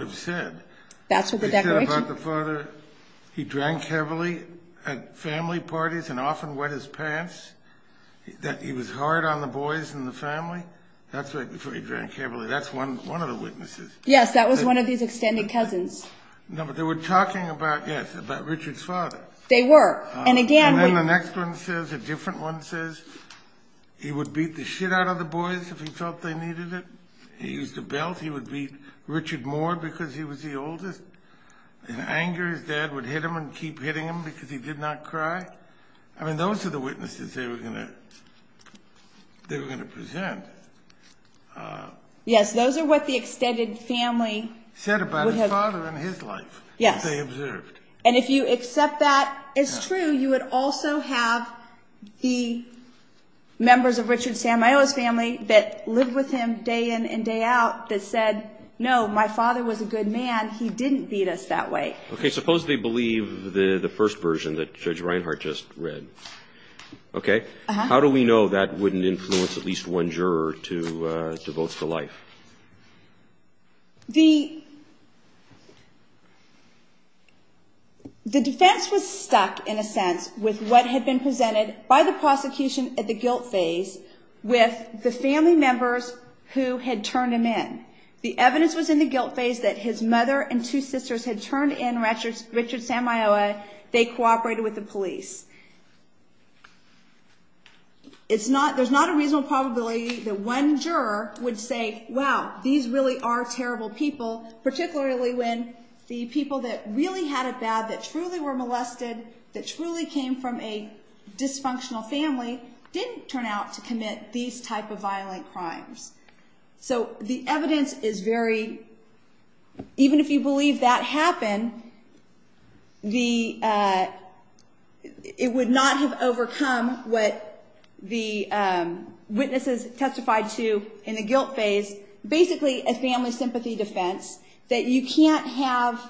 have said. They said about the father, he drank heavily at family parties and often wet his pants, that he was hard on the boys in the family. That's where he drank heavily. That's one of the witnesses. Yes, that was one of his extended cousins. No, but they were talking about, yes, about Richard's father. They were. And again— And then the next one says, a different one says, he would beat the shit out of the boys if he thought they needed it. He used a belt. He would beat Richard more because he was the oldest. In anger, his dad would hit him and keep hitting him because he did not cry. I mean, those are the witnesses they were going to present. Yes, those are what the extended family— Said about his father and his life. Yes. They observed. And if you accept that as true, you would also have the members of Richard Samuela's family that lived with him day in and day out that said, no, my father was a good man. He didn't beat us that way. Okay, suppose they believe the first version that Judge Reinhart just read. How do we know that wouldn't influence at least one juror to vote for life? The defense was stuck, in a sense, with what had been presented by the prosecution at the guilt phase with the family members who had turned him in. The evidence was in the guilt phase that his mother and two sisters had turned in Richard Samuela. They cooperated with the police. There's not a reasonable probability that one juror would say, wow, these really are terrible people, particularly when the people that really had it bad, that truly were molested, that truly came from a dysfunctional family, didn't turn out to commit these type of violent crimes. So the evidence is very, even if you believe that happened, it would not have overcome what the witnesses testified to in the guilt phase, basically a family sympathy defense that you can't have,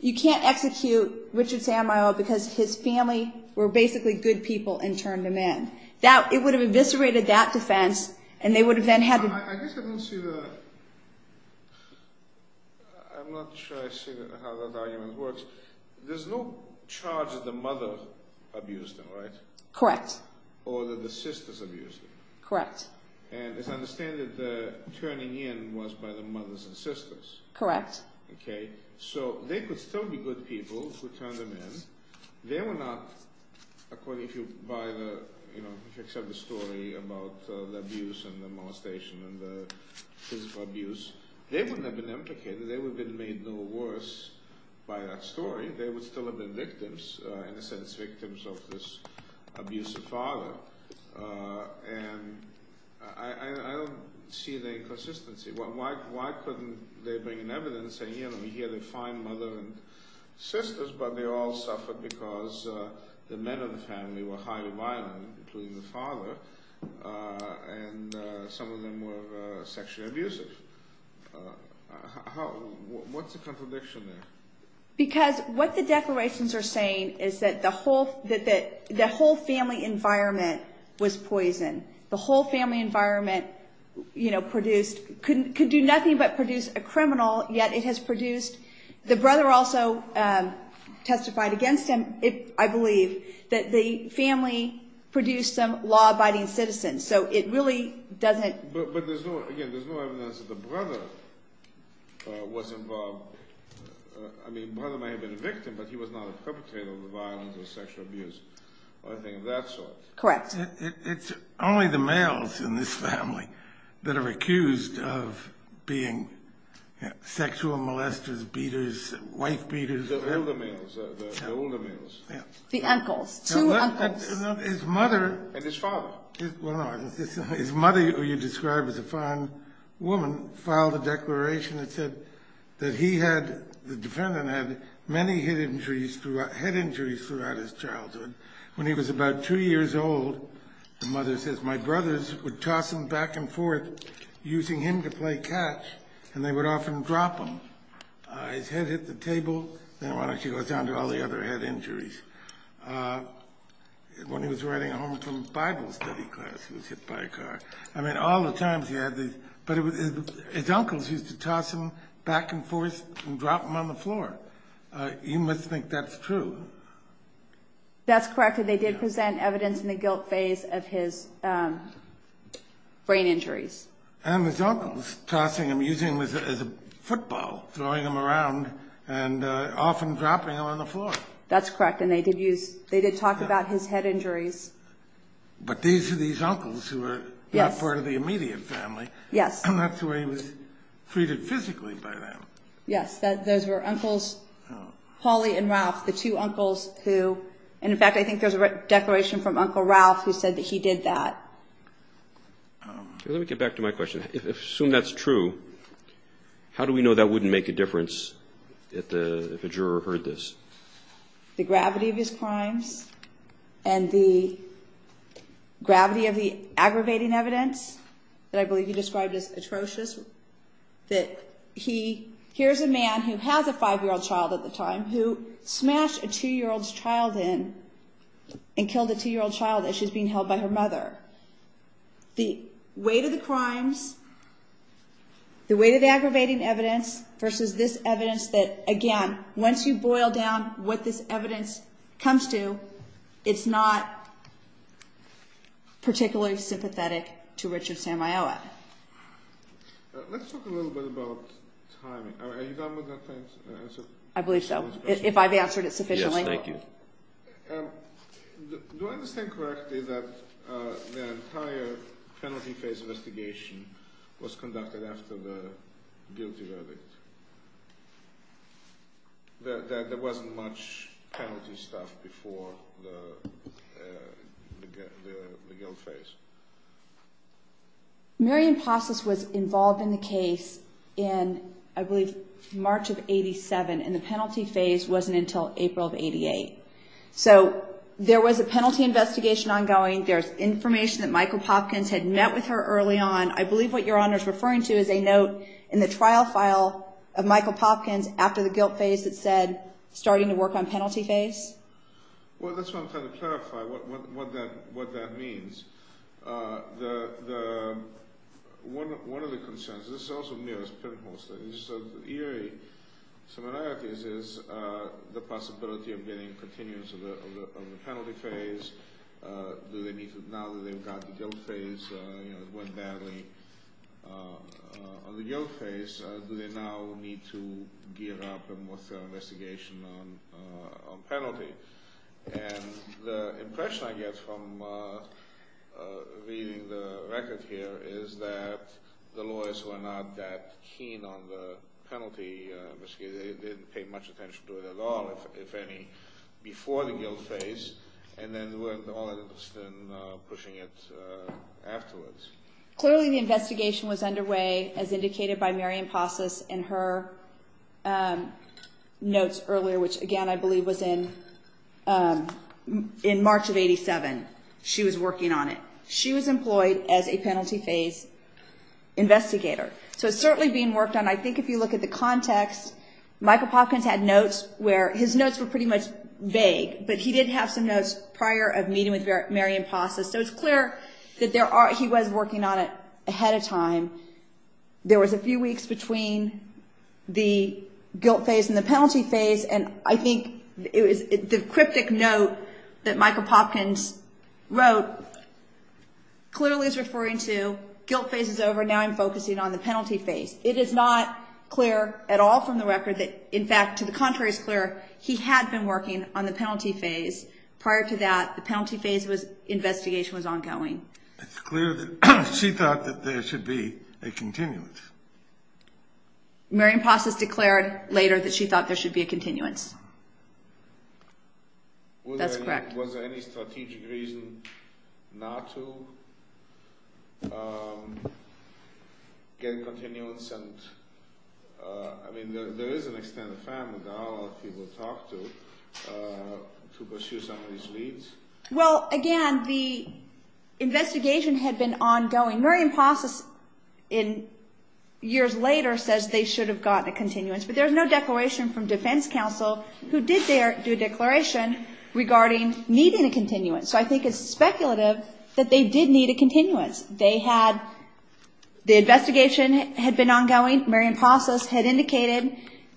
you can't execute Richard Samuela because his family were basically good people and turned him in. It would have eviscerated that defense and they would have then had... I guess I didn't see the... I'm not sure I see how that argument works. There's no charge that the mother abused him, right? Correct. Or that the sisters abused him. Correct. And as I understand it, the turning in was by the mothers and sisters. Correct. Okay, so they could still be good people who turned him in. They were not, according to the story about the abuse and the molestation and the physical abuse, they wouldn't have been implicated. They would have been made no worse by that story. They would still have been victims, and I said it's victims of this abusive father. And I don't see the inconsistency. Why couldn't they bring evidence and say, you know, he had a fine mother and sisters, but they all suffered because the men in the family were highly violent, including the father, and some of them were sexually abusive? What's the contradiction there? Because what the declarations are saying is that the whole family environment was poisoned. The whole family environment produced, could do nothing but produce a criminal, yet it has produced. The brother also testified against him, I believe, that the family produced some law-abiding citizens. So it really doesn't. But there's no evidence that the brother was involved. I mean, the brother may have been a victim, but he was not perpetrated with violence or sexual abuse or anything of that sort. Correct. It's only the males in this family that are accused of being sexual molesters, beaters, wife beaters. The older males. The uncles. His mother. And his father. His mother, who you described as a fine woman, filed a declaration that said that he had, the defendant had, many head injuries throughout his childhood. When he was about two years old, the mother says, my brothers would toss him back and forth using him to play catch, and they would often drop him. His head hit the table. She goes down to all the other head injuries. When he was riding home from Bible study class, he was hit by a car. I mean, all the times he had these. But his uncles used to toss him back and forth and drop him on the floor. You must think that's true. That's correct. They did present evidence in the guilt phase of his brain injuries. And his uncles, tossing him, using him as a football, throwing him around and often dropping him on the floor. That's correct. And they did use, they did talk about his head injuries. But these are these uncles who were part of the immediate family. Yes. And that's the way he was treated physically by them. Yes. Those were uncles, Holly and Ralph, the two uncles who, and in fact I think there's a declaration from Uncle Ralph who said that he did that. Let me get back to my question. Assume that's true, how do we know that wouldn't make a difference if a juror heard this? The gravity of his crimes and the gravity of the aggravating evidence that I believe you described as atrocious, that he, here's a man who has a five-year-old child at the time, who smashed a two-year-old's child in and killed a two-year-old child as she's being held by her mother. The weight of the crimes, the weight of the aggravating evidence versus this evidence that, again, once you boil down what this evidence comes to, it's not particularly sympathetic to Richard Samioas. Let's talk a little bit about timing. Are you done with that question? I believe so, if I've answered it sufficiently. Yes, thank you. Do I understand correctly that the entire penalty phase investigation was conducted after the guilty evidence? That there wasn't much penalty stuff before the guilt phase? Marion Pofflis was involved in the case in, I believe, March of 87, and the penalty phase wasn't until April of 88. So, there was a penalty investigation ongoing, there's information that Michael Popkins had met with her early on. I believe what Your Honor is referring to is a note in the trial file of Michael Popkins after the guilt phase that said, starting to work on penalty phase. Well, that's what I'm trying to clarify, what that means. One of the concerns, and this is also near as a criminal case, is the possibility of getting continuance on the penalty phase. Now that they've got the guilt phase going badly on the guilt phase, do they now need to gear up a more thorough investigation on penalty? And the impression I get from reading the record here is that the lawyers were not that keen on the penalty. They didn't pay much attention to it at all, if any, before the guilt phase, and then all of a sudden pushing it afterwards. Clearly, the investigation was underway, as indicated by Marion Possess in her notes earlier, which, again, I believe was in March of 87, she was working on it. She was employed as a penalty phase investigator. So, it's certainly being worked on. I think if you look at the context, Michael Popkins had notes where his notes were pretty much vague, but he did have some notes prior of meeting with Marion Possess. So, it's clear that he was working on it ahead of time. There was a few weeks between the guilt phase and the penalty phase, and I think the cryptic note that Michael Popkins wrote clearly is referring to guilt phase is over, now I'm focusing on the penalty phase. It is not clear at all from the record that, in fact, to the contrary, it's clear he had been working on the penalty phase. Prior to that, the penalty phase investigation was ongoing. It's clear that she thought that there should be a continuance. Marion Possess declared later that she thought there should be a continuance. That's correct. Was there any strategic reason not to get continuance? I mean, there is an extended family that I'll ask people to talk to pursue some of these leads. Well, again, the investigation had been ongoing. Marion Possess, years later, says they should have gotten a continuance, but there's no declaration from defense counsel who did do a declaration regarding needing a continuance. So, I think it's speculative that they did need a continuance. The investigation had been ongoing. Marion Possess had indicated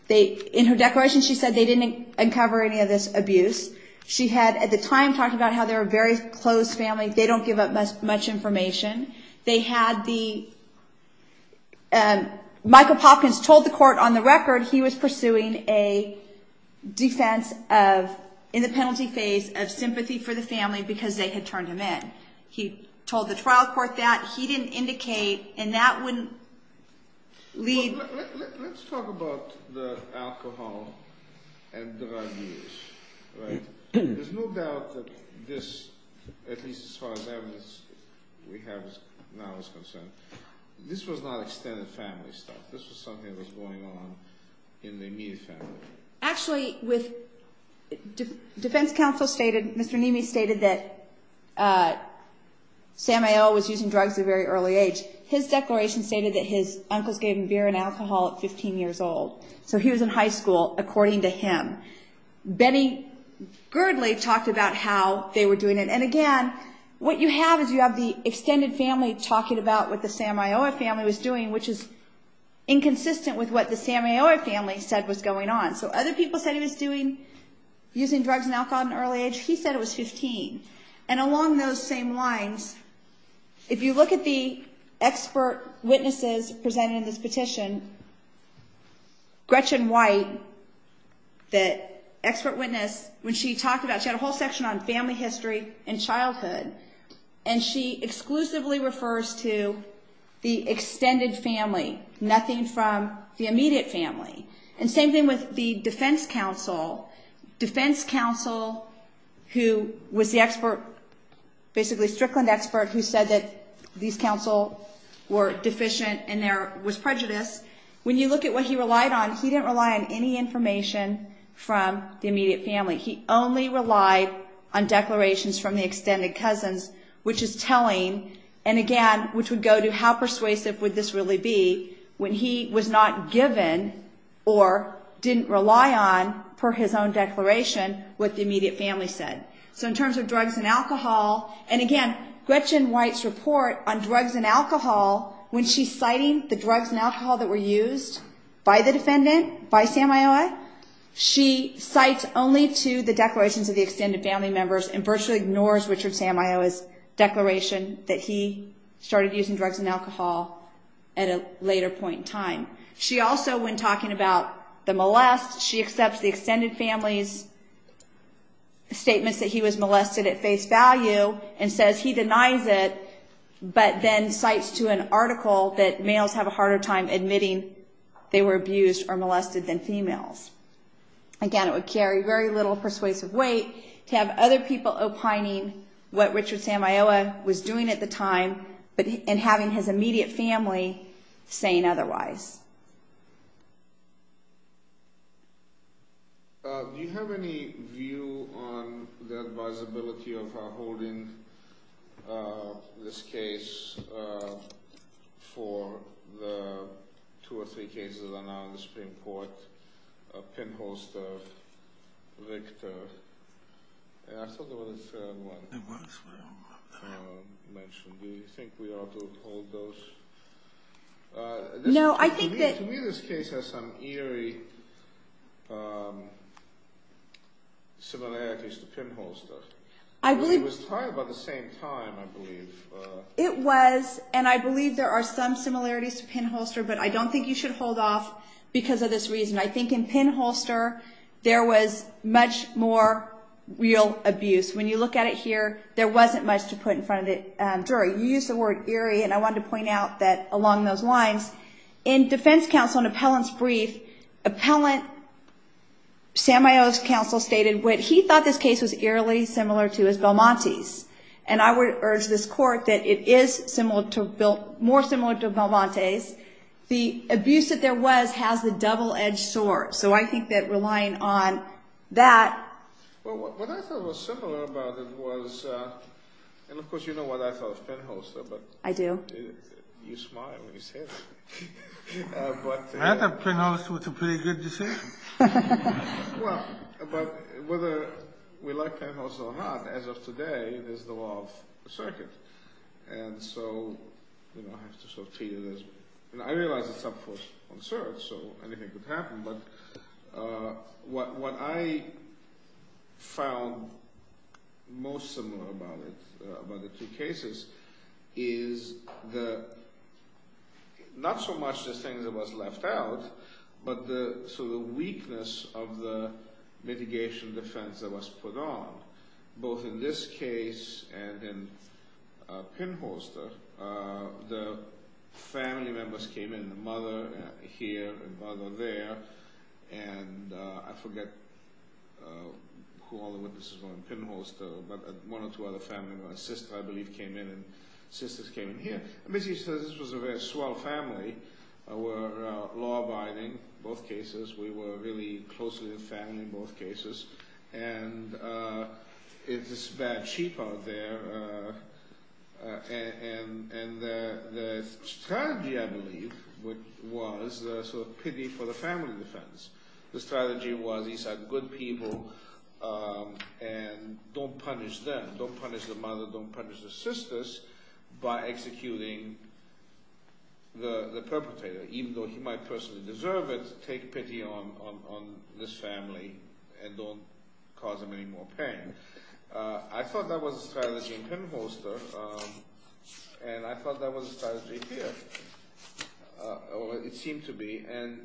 in her declaration she said they didn't uncover any of this abuse. She had, at the time, talked about how they were very close families. They don't give up much information. Michael Palkins told the court on the record he was pursuing a defense in the penalty phase of sympathy for the family because they had turned him in. He told the trial court that. He didn't indicate, and that wouldn't lead. Let's talk about the alcohol and the abuse. There's no doubt that this, at least as far as evidence we have now is concerned, this was not extended family stuff. This was something that was going on in the immediate family. Actually, defense counsel stated, Mr. Nimi stated that Samuel was using drugs at a very early age. His declaration stated that his uncle gave him beer and alcohol at 15 years old. So, he was in high school, according to him. Benny Girdley talked about how they were doing it. And, again, what you have is you have the extended family talking about what the Sam Ayoa family was doing, which is inconsistent with what the Sam Ayoa family said was going on. So, other people said he was using drugs and alcohol at an early age. He said it was 15. And along those same lines, if you look at the expert witnesses presented in this petition, Gretchen White, the expert witness, when she talked about, she had a whole section on family history and childhood, and she exclusively refers to the extended family, nothing from the immediate family. And same thing with the defense counsel. Defense counsel, who was the expert, basically Strickland expert, who said that these counsel were deficient and there was prejudice. When you look at what he relied on, he didn't rely on any information from the immediate family. He only relied on declarations from the extended cousins, which is telling. And, again, which would go to how persuasive would this really be when he was not given or didn't rely on for his own declaration what the immediate family said. So, in terms of drugs and alcohol, and, again, Gretchen White's report on drugs and alcohol, when she's citing the drugs and alcohol that were used by the defendant, by Sam Ayoa, she cites only to the declarations of the extended family members and virtually ignores Richard Sam Ayoa's declaration that he started using drugs and alcohol at a later point in time. She also, when talking about the molest, she accepts the extended family's statement that he was molested at face value and says he denies it, but then cites to an article that males have a harder time admitting they were abused or molested than females. Again, it would carry very little persuasive weight to have other people opining what Richard Sam Ayoa was doing at the time and having his immediate family saying otherwise. Do you have any view on the advisability of holding this case for the two or three cases on the Supreme Court, Pinholster, Victor, and I still want to mention, do you think we ought to hold those? To me, this case has some eerie similarities to Pinholster. It was tried by the same time, I believe. It was, and I believe there are some similarities to Pinholster, but I don't think you should hold off because of this reason. I think in Pinholster, there was much more real abuse. When you look at it here, there wasn't much to put in front of it. You used the word eerie, and I wanted to point out that along those lines, in defense counsel and appellant's brief, appellant Sam Ayoa's counsel stated that he thought this case was eerily similar to Velmonte's, and I would urge this court that it is more similar to Velmonte's. The abuse that there was has a double-edged sword, so I think that relying on that... Well, what I thought was similar about it was, and of course you know what I thought of Pinholster, but... I do. You smiled when you said it. I thought Pinholster was a pretty good decision. Well, but whether we like Pinholster or not, as of today, there's no off the circuit. And so, you know, I have to sort of feel this way. And I realize it's up for a search, so anything could happen, but what I found most similar about it, about the two cases, is not so much the thing that was left out, but the weakness of the litigation defense that was put on. Both in this case and in Pinholster, the family members came in, the mother here, the brother there, and I forget who all the witnesses were in Pinholster, but one or two other family members, I believe, came in, and sisters came in here. I mean, this was a very small family. We're law-abiding in both cases. We were really close to the family in both cases. And it's bad sheep out there, and the strategy, I believe, was the sort of pity for the family defense. The strategy was, these are good people, and don't punish them. Don't punish the mother, don't punish the sisters, by executing the perpetrator. Even though he might personally deserve it, take pity on this family and don't cause them any more pain. I thought that was the strategy in Pinholster, and I thought that was the strategy here. It seemed to be, and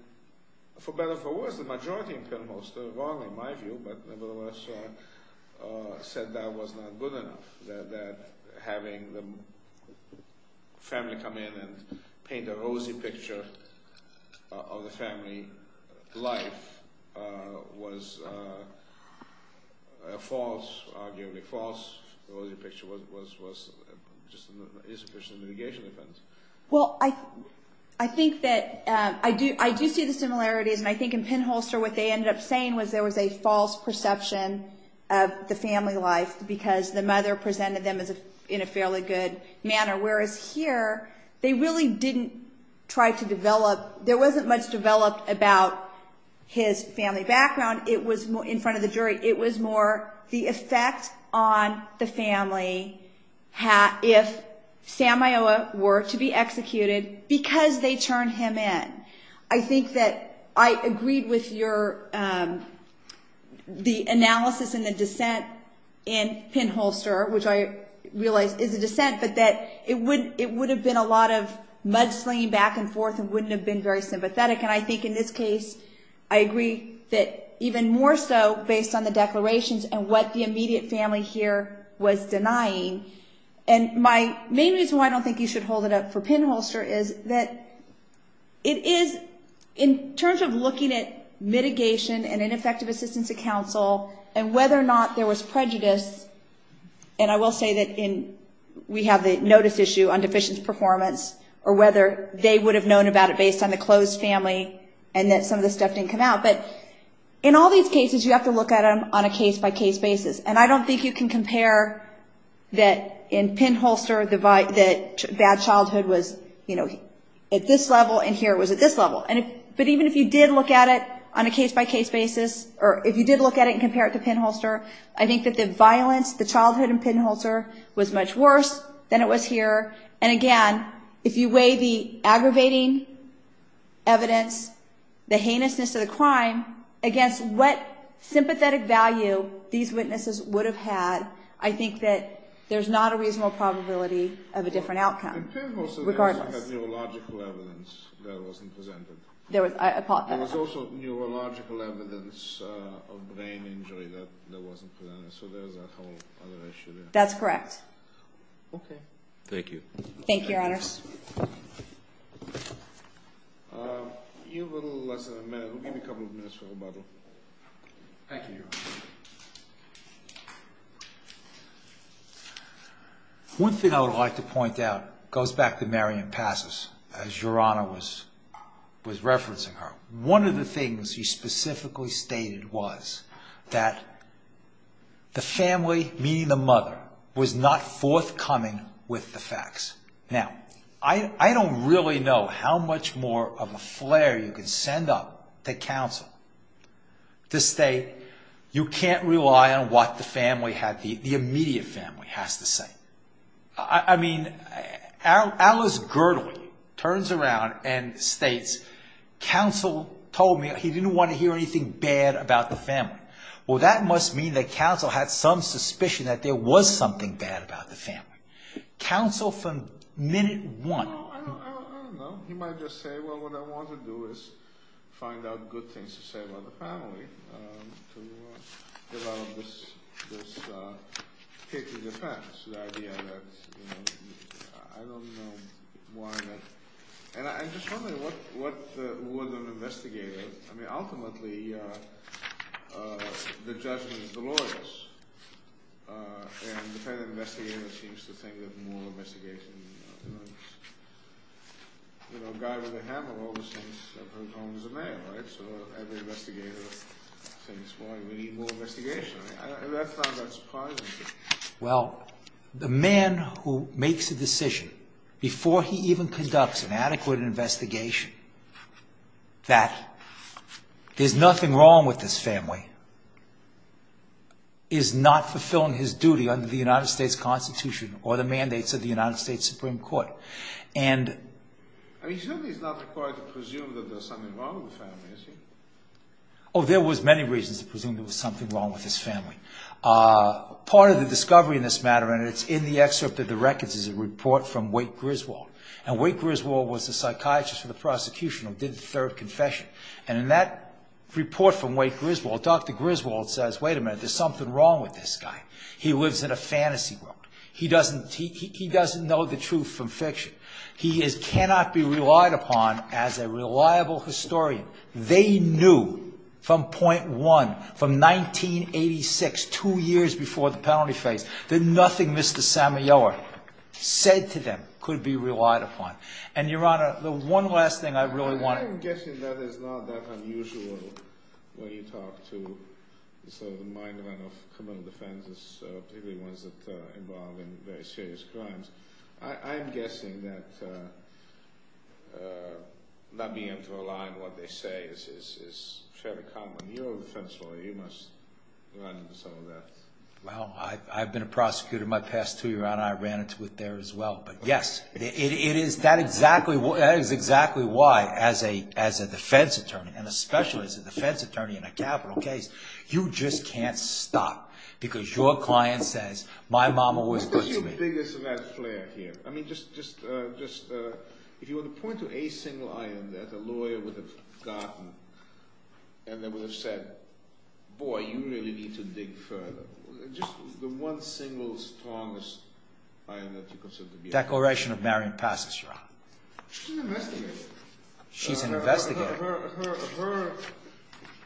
for better or for worse, the majority in Pinholster, in my view, said that was not good enough, that having the family come in and paint a rosy picture of the family life was false, arguably false. The rosy picture was just for some litigation defense. Well, I think that, I do see the similarity, and I think in Pinholster what they ended up saying was there was a false perception of the family life, because the mother presented them in a fairly good manner. Whereas here, they really didn't try to develop, there wasn't much developed about his family background. In front of the jury, it was more the effect on the family if Samuel were to be executed, because they turned him in. I think that I agreed with the analysis and the dissent in Pinholster, which I realize is a dissent, but that it would have been a lot of mudslinging back and forth and wouldn't have been very sympathetic. I think in this case, I agree that even more so based on the declarations and what the immediate family here was denying. My main reason why I don't think you should hold it up for Pinholster is that it is, in terms of looking at mitigation and ineffective assistance to counsel and whether or not there was prejudice, and I will say that we have the notice issue on deficient performance, or whether they would have known about it based on the closed family and that some of this stuff didn't come out. But in all these cases, you have to look at them on a case-by-case basis, and I don't think you can compare that in Pinholster that dad's childhood was at this level and here it was at this level. But even if you did look at it on a case-by-case basis, or if you did look at it and compare it to Pinholster, I think that the violence, the childhood in Pinholster was much worse than it was here. And again, if you weigh the aggravating evidence, the heinousness of the crime, against what sympathetic value these witnesses would have had, I think that there's not a reasonable probability of a different outcome. In Pinholster, there was neurological evidence that wasn't presented. There was also neurological evidence of brain injury that wasn't presented. So there was a whole other issue there. That's correct. Thank you. Thank you, Your Honor. One thing I would like to point out goes back to Marion Passes, as Your Honor was referencing her. One of the things she specifically stated was that the family, meaning the mother, was not forthcoming with the facts. Now, I don't really know how much more of a flare you can send up to counsel to say you can't rely on what the immediate family has to say. I mean, Alice Girdley turns around and states, counsel told me he didn't want to hear anything bad about the family. Well, that must mean that counsel had some suspicion that there was something bad about the family. Counsel from minute one. I don't know. He might just say, well, what I want to do is find out good things to say about the family. About this case of defense. The idea that, you know, I don't know why. And I'm just wondering, what was an investigator? I mean, ultimately, the judgment is glorious. And the kind of investigator that seems to think of moral investigation. You know, a guy with a hammer always thinks of his own as a man, right? So, as an investigator, we need moral investigation. I find that surprising. Well, the man who makes a decision, before he even conducts an adequate investigation, that there's nothing wrong with this family, is not fulfilling his duty under the United States Constitution or the mandates of the United States Supreme Court. I assume he's not required to presume that there's something wrong with the family, is he? Oh, there was many reasons to presume there was something wrong with his family. Part of the discovery in this matter, and it's in the excerpt of the records, is a report from Wake Griswold. Now, Wake Griswold was the psychiatrist for the prosecution who did serve confession. And in that report from Wake Griswold, Dr. Griswold says, wait a minute, there's something wrong with this guy. He lives in a fantasy world. He doesn't know the truth from fiction. He cannot be relied upon as a reliable historian. They knew from point one, from 1986, two years before the penalty phase, that nothing Mr. Samuel said to them could be relied upon. And, Your Honor, the one last thing I really want to... I'm guessing that not being able to rely on what they say is fairly common. You're a defense lawyer. You must rely on some of that. Well, I've been a prosecutor my past two years, and I ran into it there as well. But, yes, that is exactly why, as a defense attorney, and especially as a defense attorney in a capital case, you just can't stop because your client says, my mama was... What is your biggest and last flare here? I mean, just, if you were to point to a single item that a lawyer would have gotten, and then would have said, boy, you really need to dig further, just the one single, strongest item that you consider to be... Declaration of Marion Pasterak. She's an investigator. She's an investigator. Her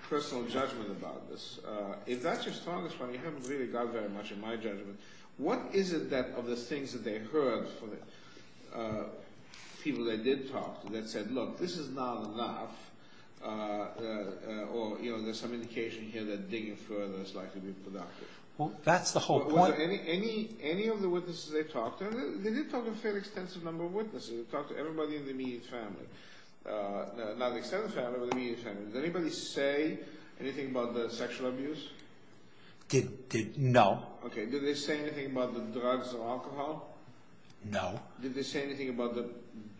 personal judgment about this, if that's your strongest point, you haven't really got very much of my judgment. What is it that, of the things that they heard from the people that they talked to, that said, look, this is not enough, or there's some indication here that digging further is likely to be productive? Well, that's the whole point. Any of the witnesses they talked to, they did talk to a fairly extensive number of witnesses. They talked to everybody in the immediate family. Not the extended family, but the immediate family. Did anybody say anything about the sexual abuse? No. Okay. Did they say anything about the drugs or alcohol? No. Did they say anything about the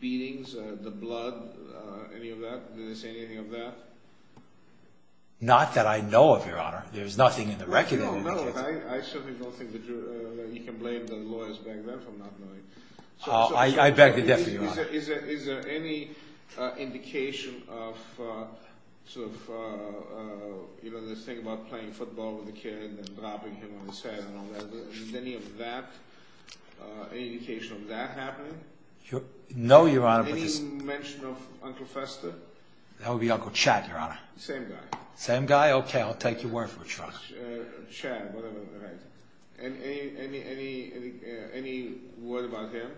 beatings, the blood, any of that? Did they say anything of that? Not that I know of, Your Honor. There's nothing in the record. No, no. I certainly don't think that you can blame the lawyers back there for not knowing. I beg to differ, Your Honor. Is there any indication of, sort of, you know, the thing about playing football with a kid, and then dropping him on the side and all that? Is there any indication of that happening? No, Your Honor. Any mention of Uncle Fester? That would be Uncle Chad, Your Honor. Same guy. Same guy? Okay, I'll take your word for it, Your Honor. Chad, whatever, right. Any word about him?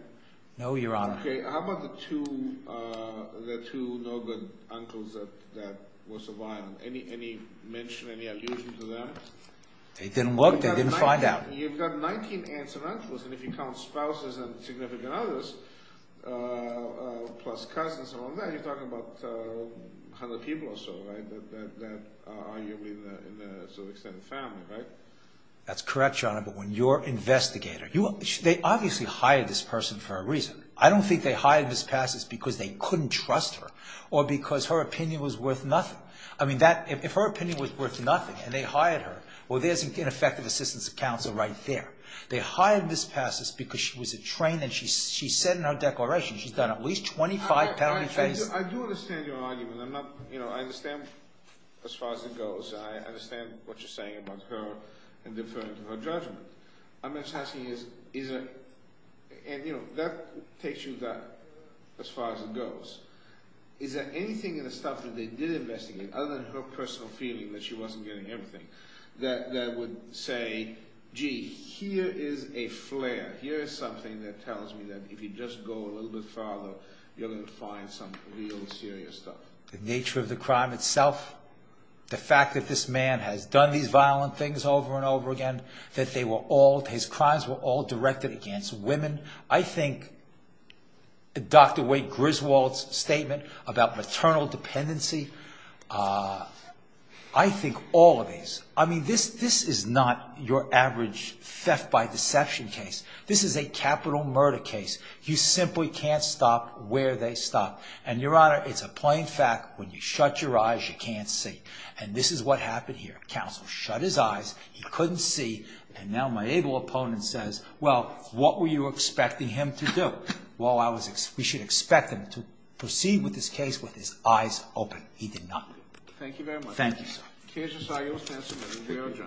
No, Your Honor. Okay, how about the two no-good uncles that were surviving? Any mention, any allusion to that? They didn't look. They didn't find out. You've got 19 aunts and uncles, and if you count spouses and significant others, plus cousins and all that, Chad, you're talking about other people or so, right, that are living in a sort of extended family, right? That's correct, Your Honor. But when your investigator, they obviously hired this person for a reason. I don't think they hired this pastor because they couldn't trust her or because her opinion was worth nothing. I mean, if her opinion was worth nothing and they hired her, well, there's ineffective assistance accounts right there. They hired this pastor because she was a trainer. And she said in her declaration she's done at least 25 pastor trainings. I do understand your argument. I'm not, you know, I understand as far as it goes. I understand what you're saying about her and deferring to her judgment. I'm just asking is, is it, and, you know, that takes you as far as it goes. Is there anything in the stuff that they did investigate, other than her personal feeling that she wasn't getting everything, that would say, gee, here is a flare. Here is something that tells me that if you just go a little bit further, you're going to find some real serious stuff. The nature of the crime itself, the fact that this man has done these violent things over and over again, that they were all, his crimes were all directed against women. I think Dr. Wade Griswold's statement about maternal dependency, I think all of these. I mean, this is not your average theft by deception case. This is a capital murder case. You simply can't stop where they stop. And, Your Honor, it's a plain fact, when you shut your eyes, you can't see. And this is what happened here. Counsel shut his eyes. He couldn't see. And now my able opponent says, well, what were you expecting him to do? Well, we should expect him to proceed with this case with his eyes open. He did not. Thank you very much. Thank you, sir.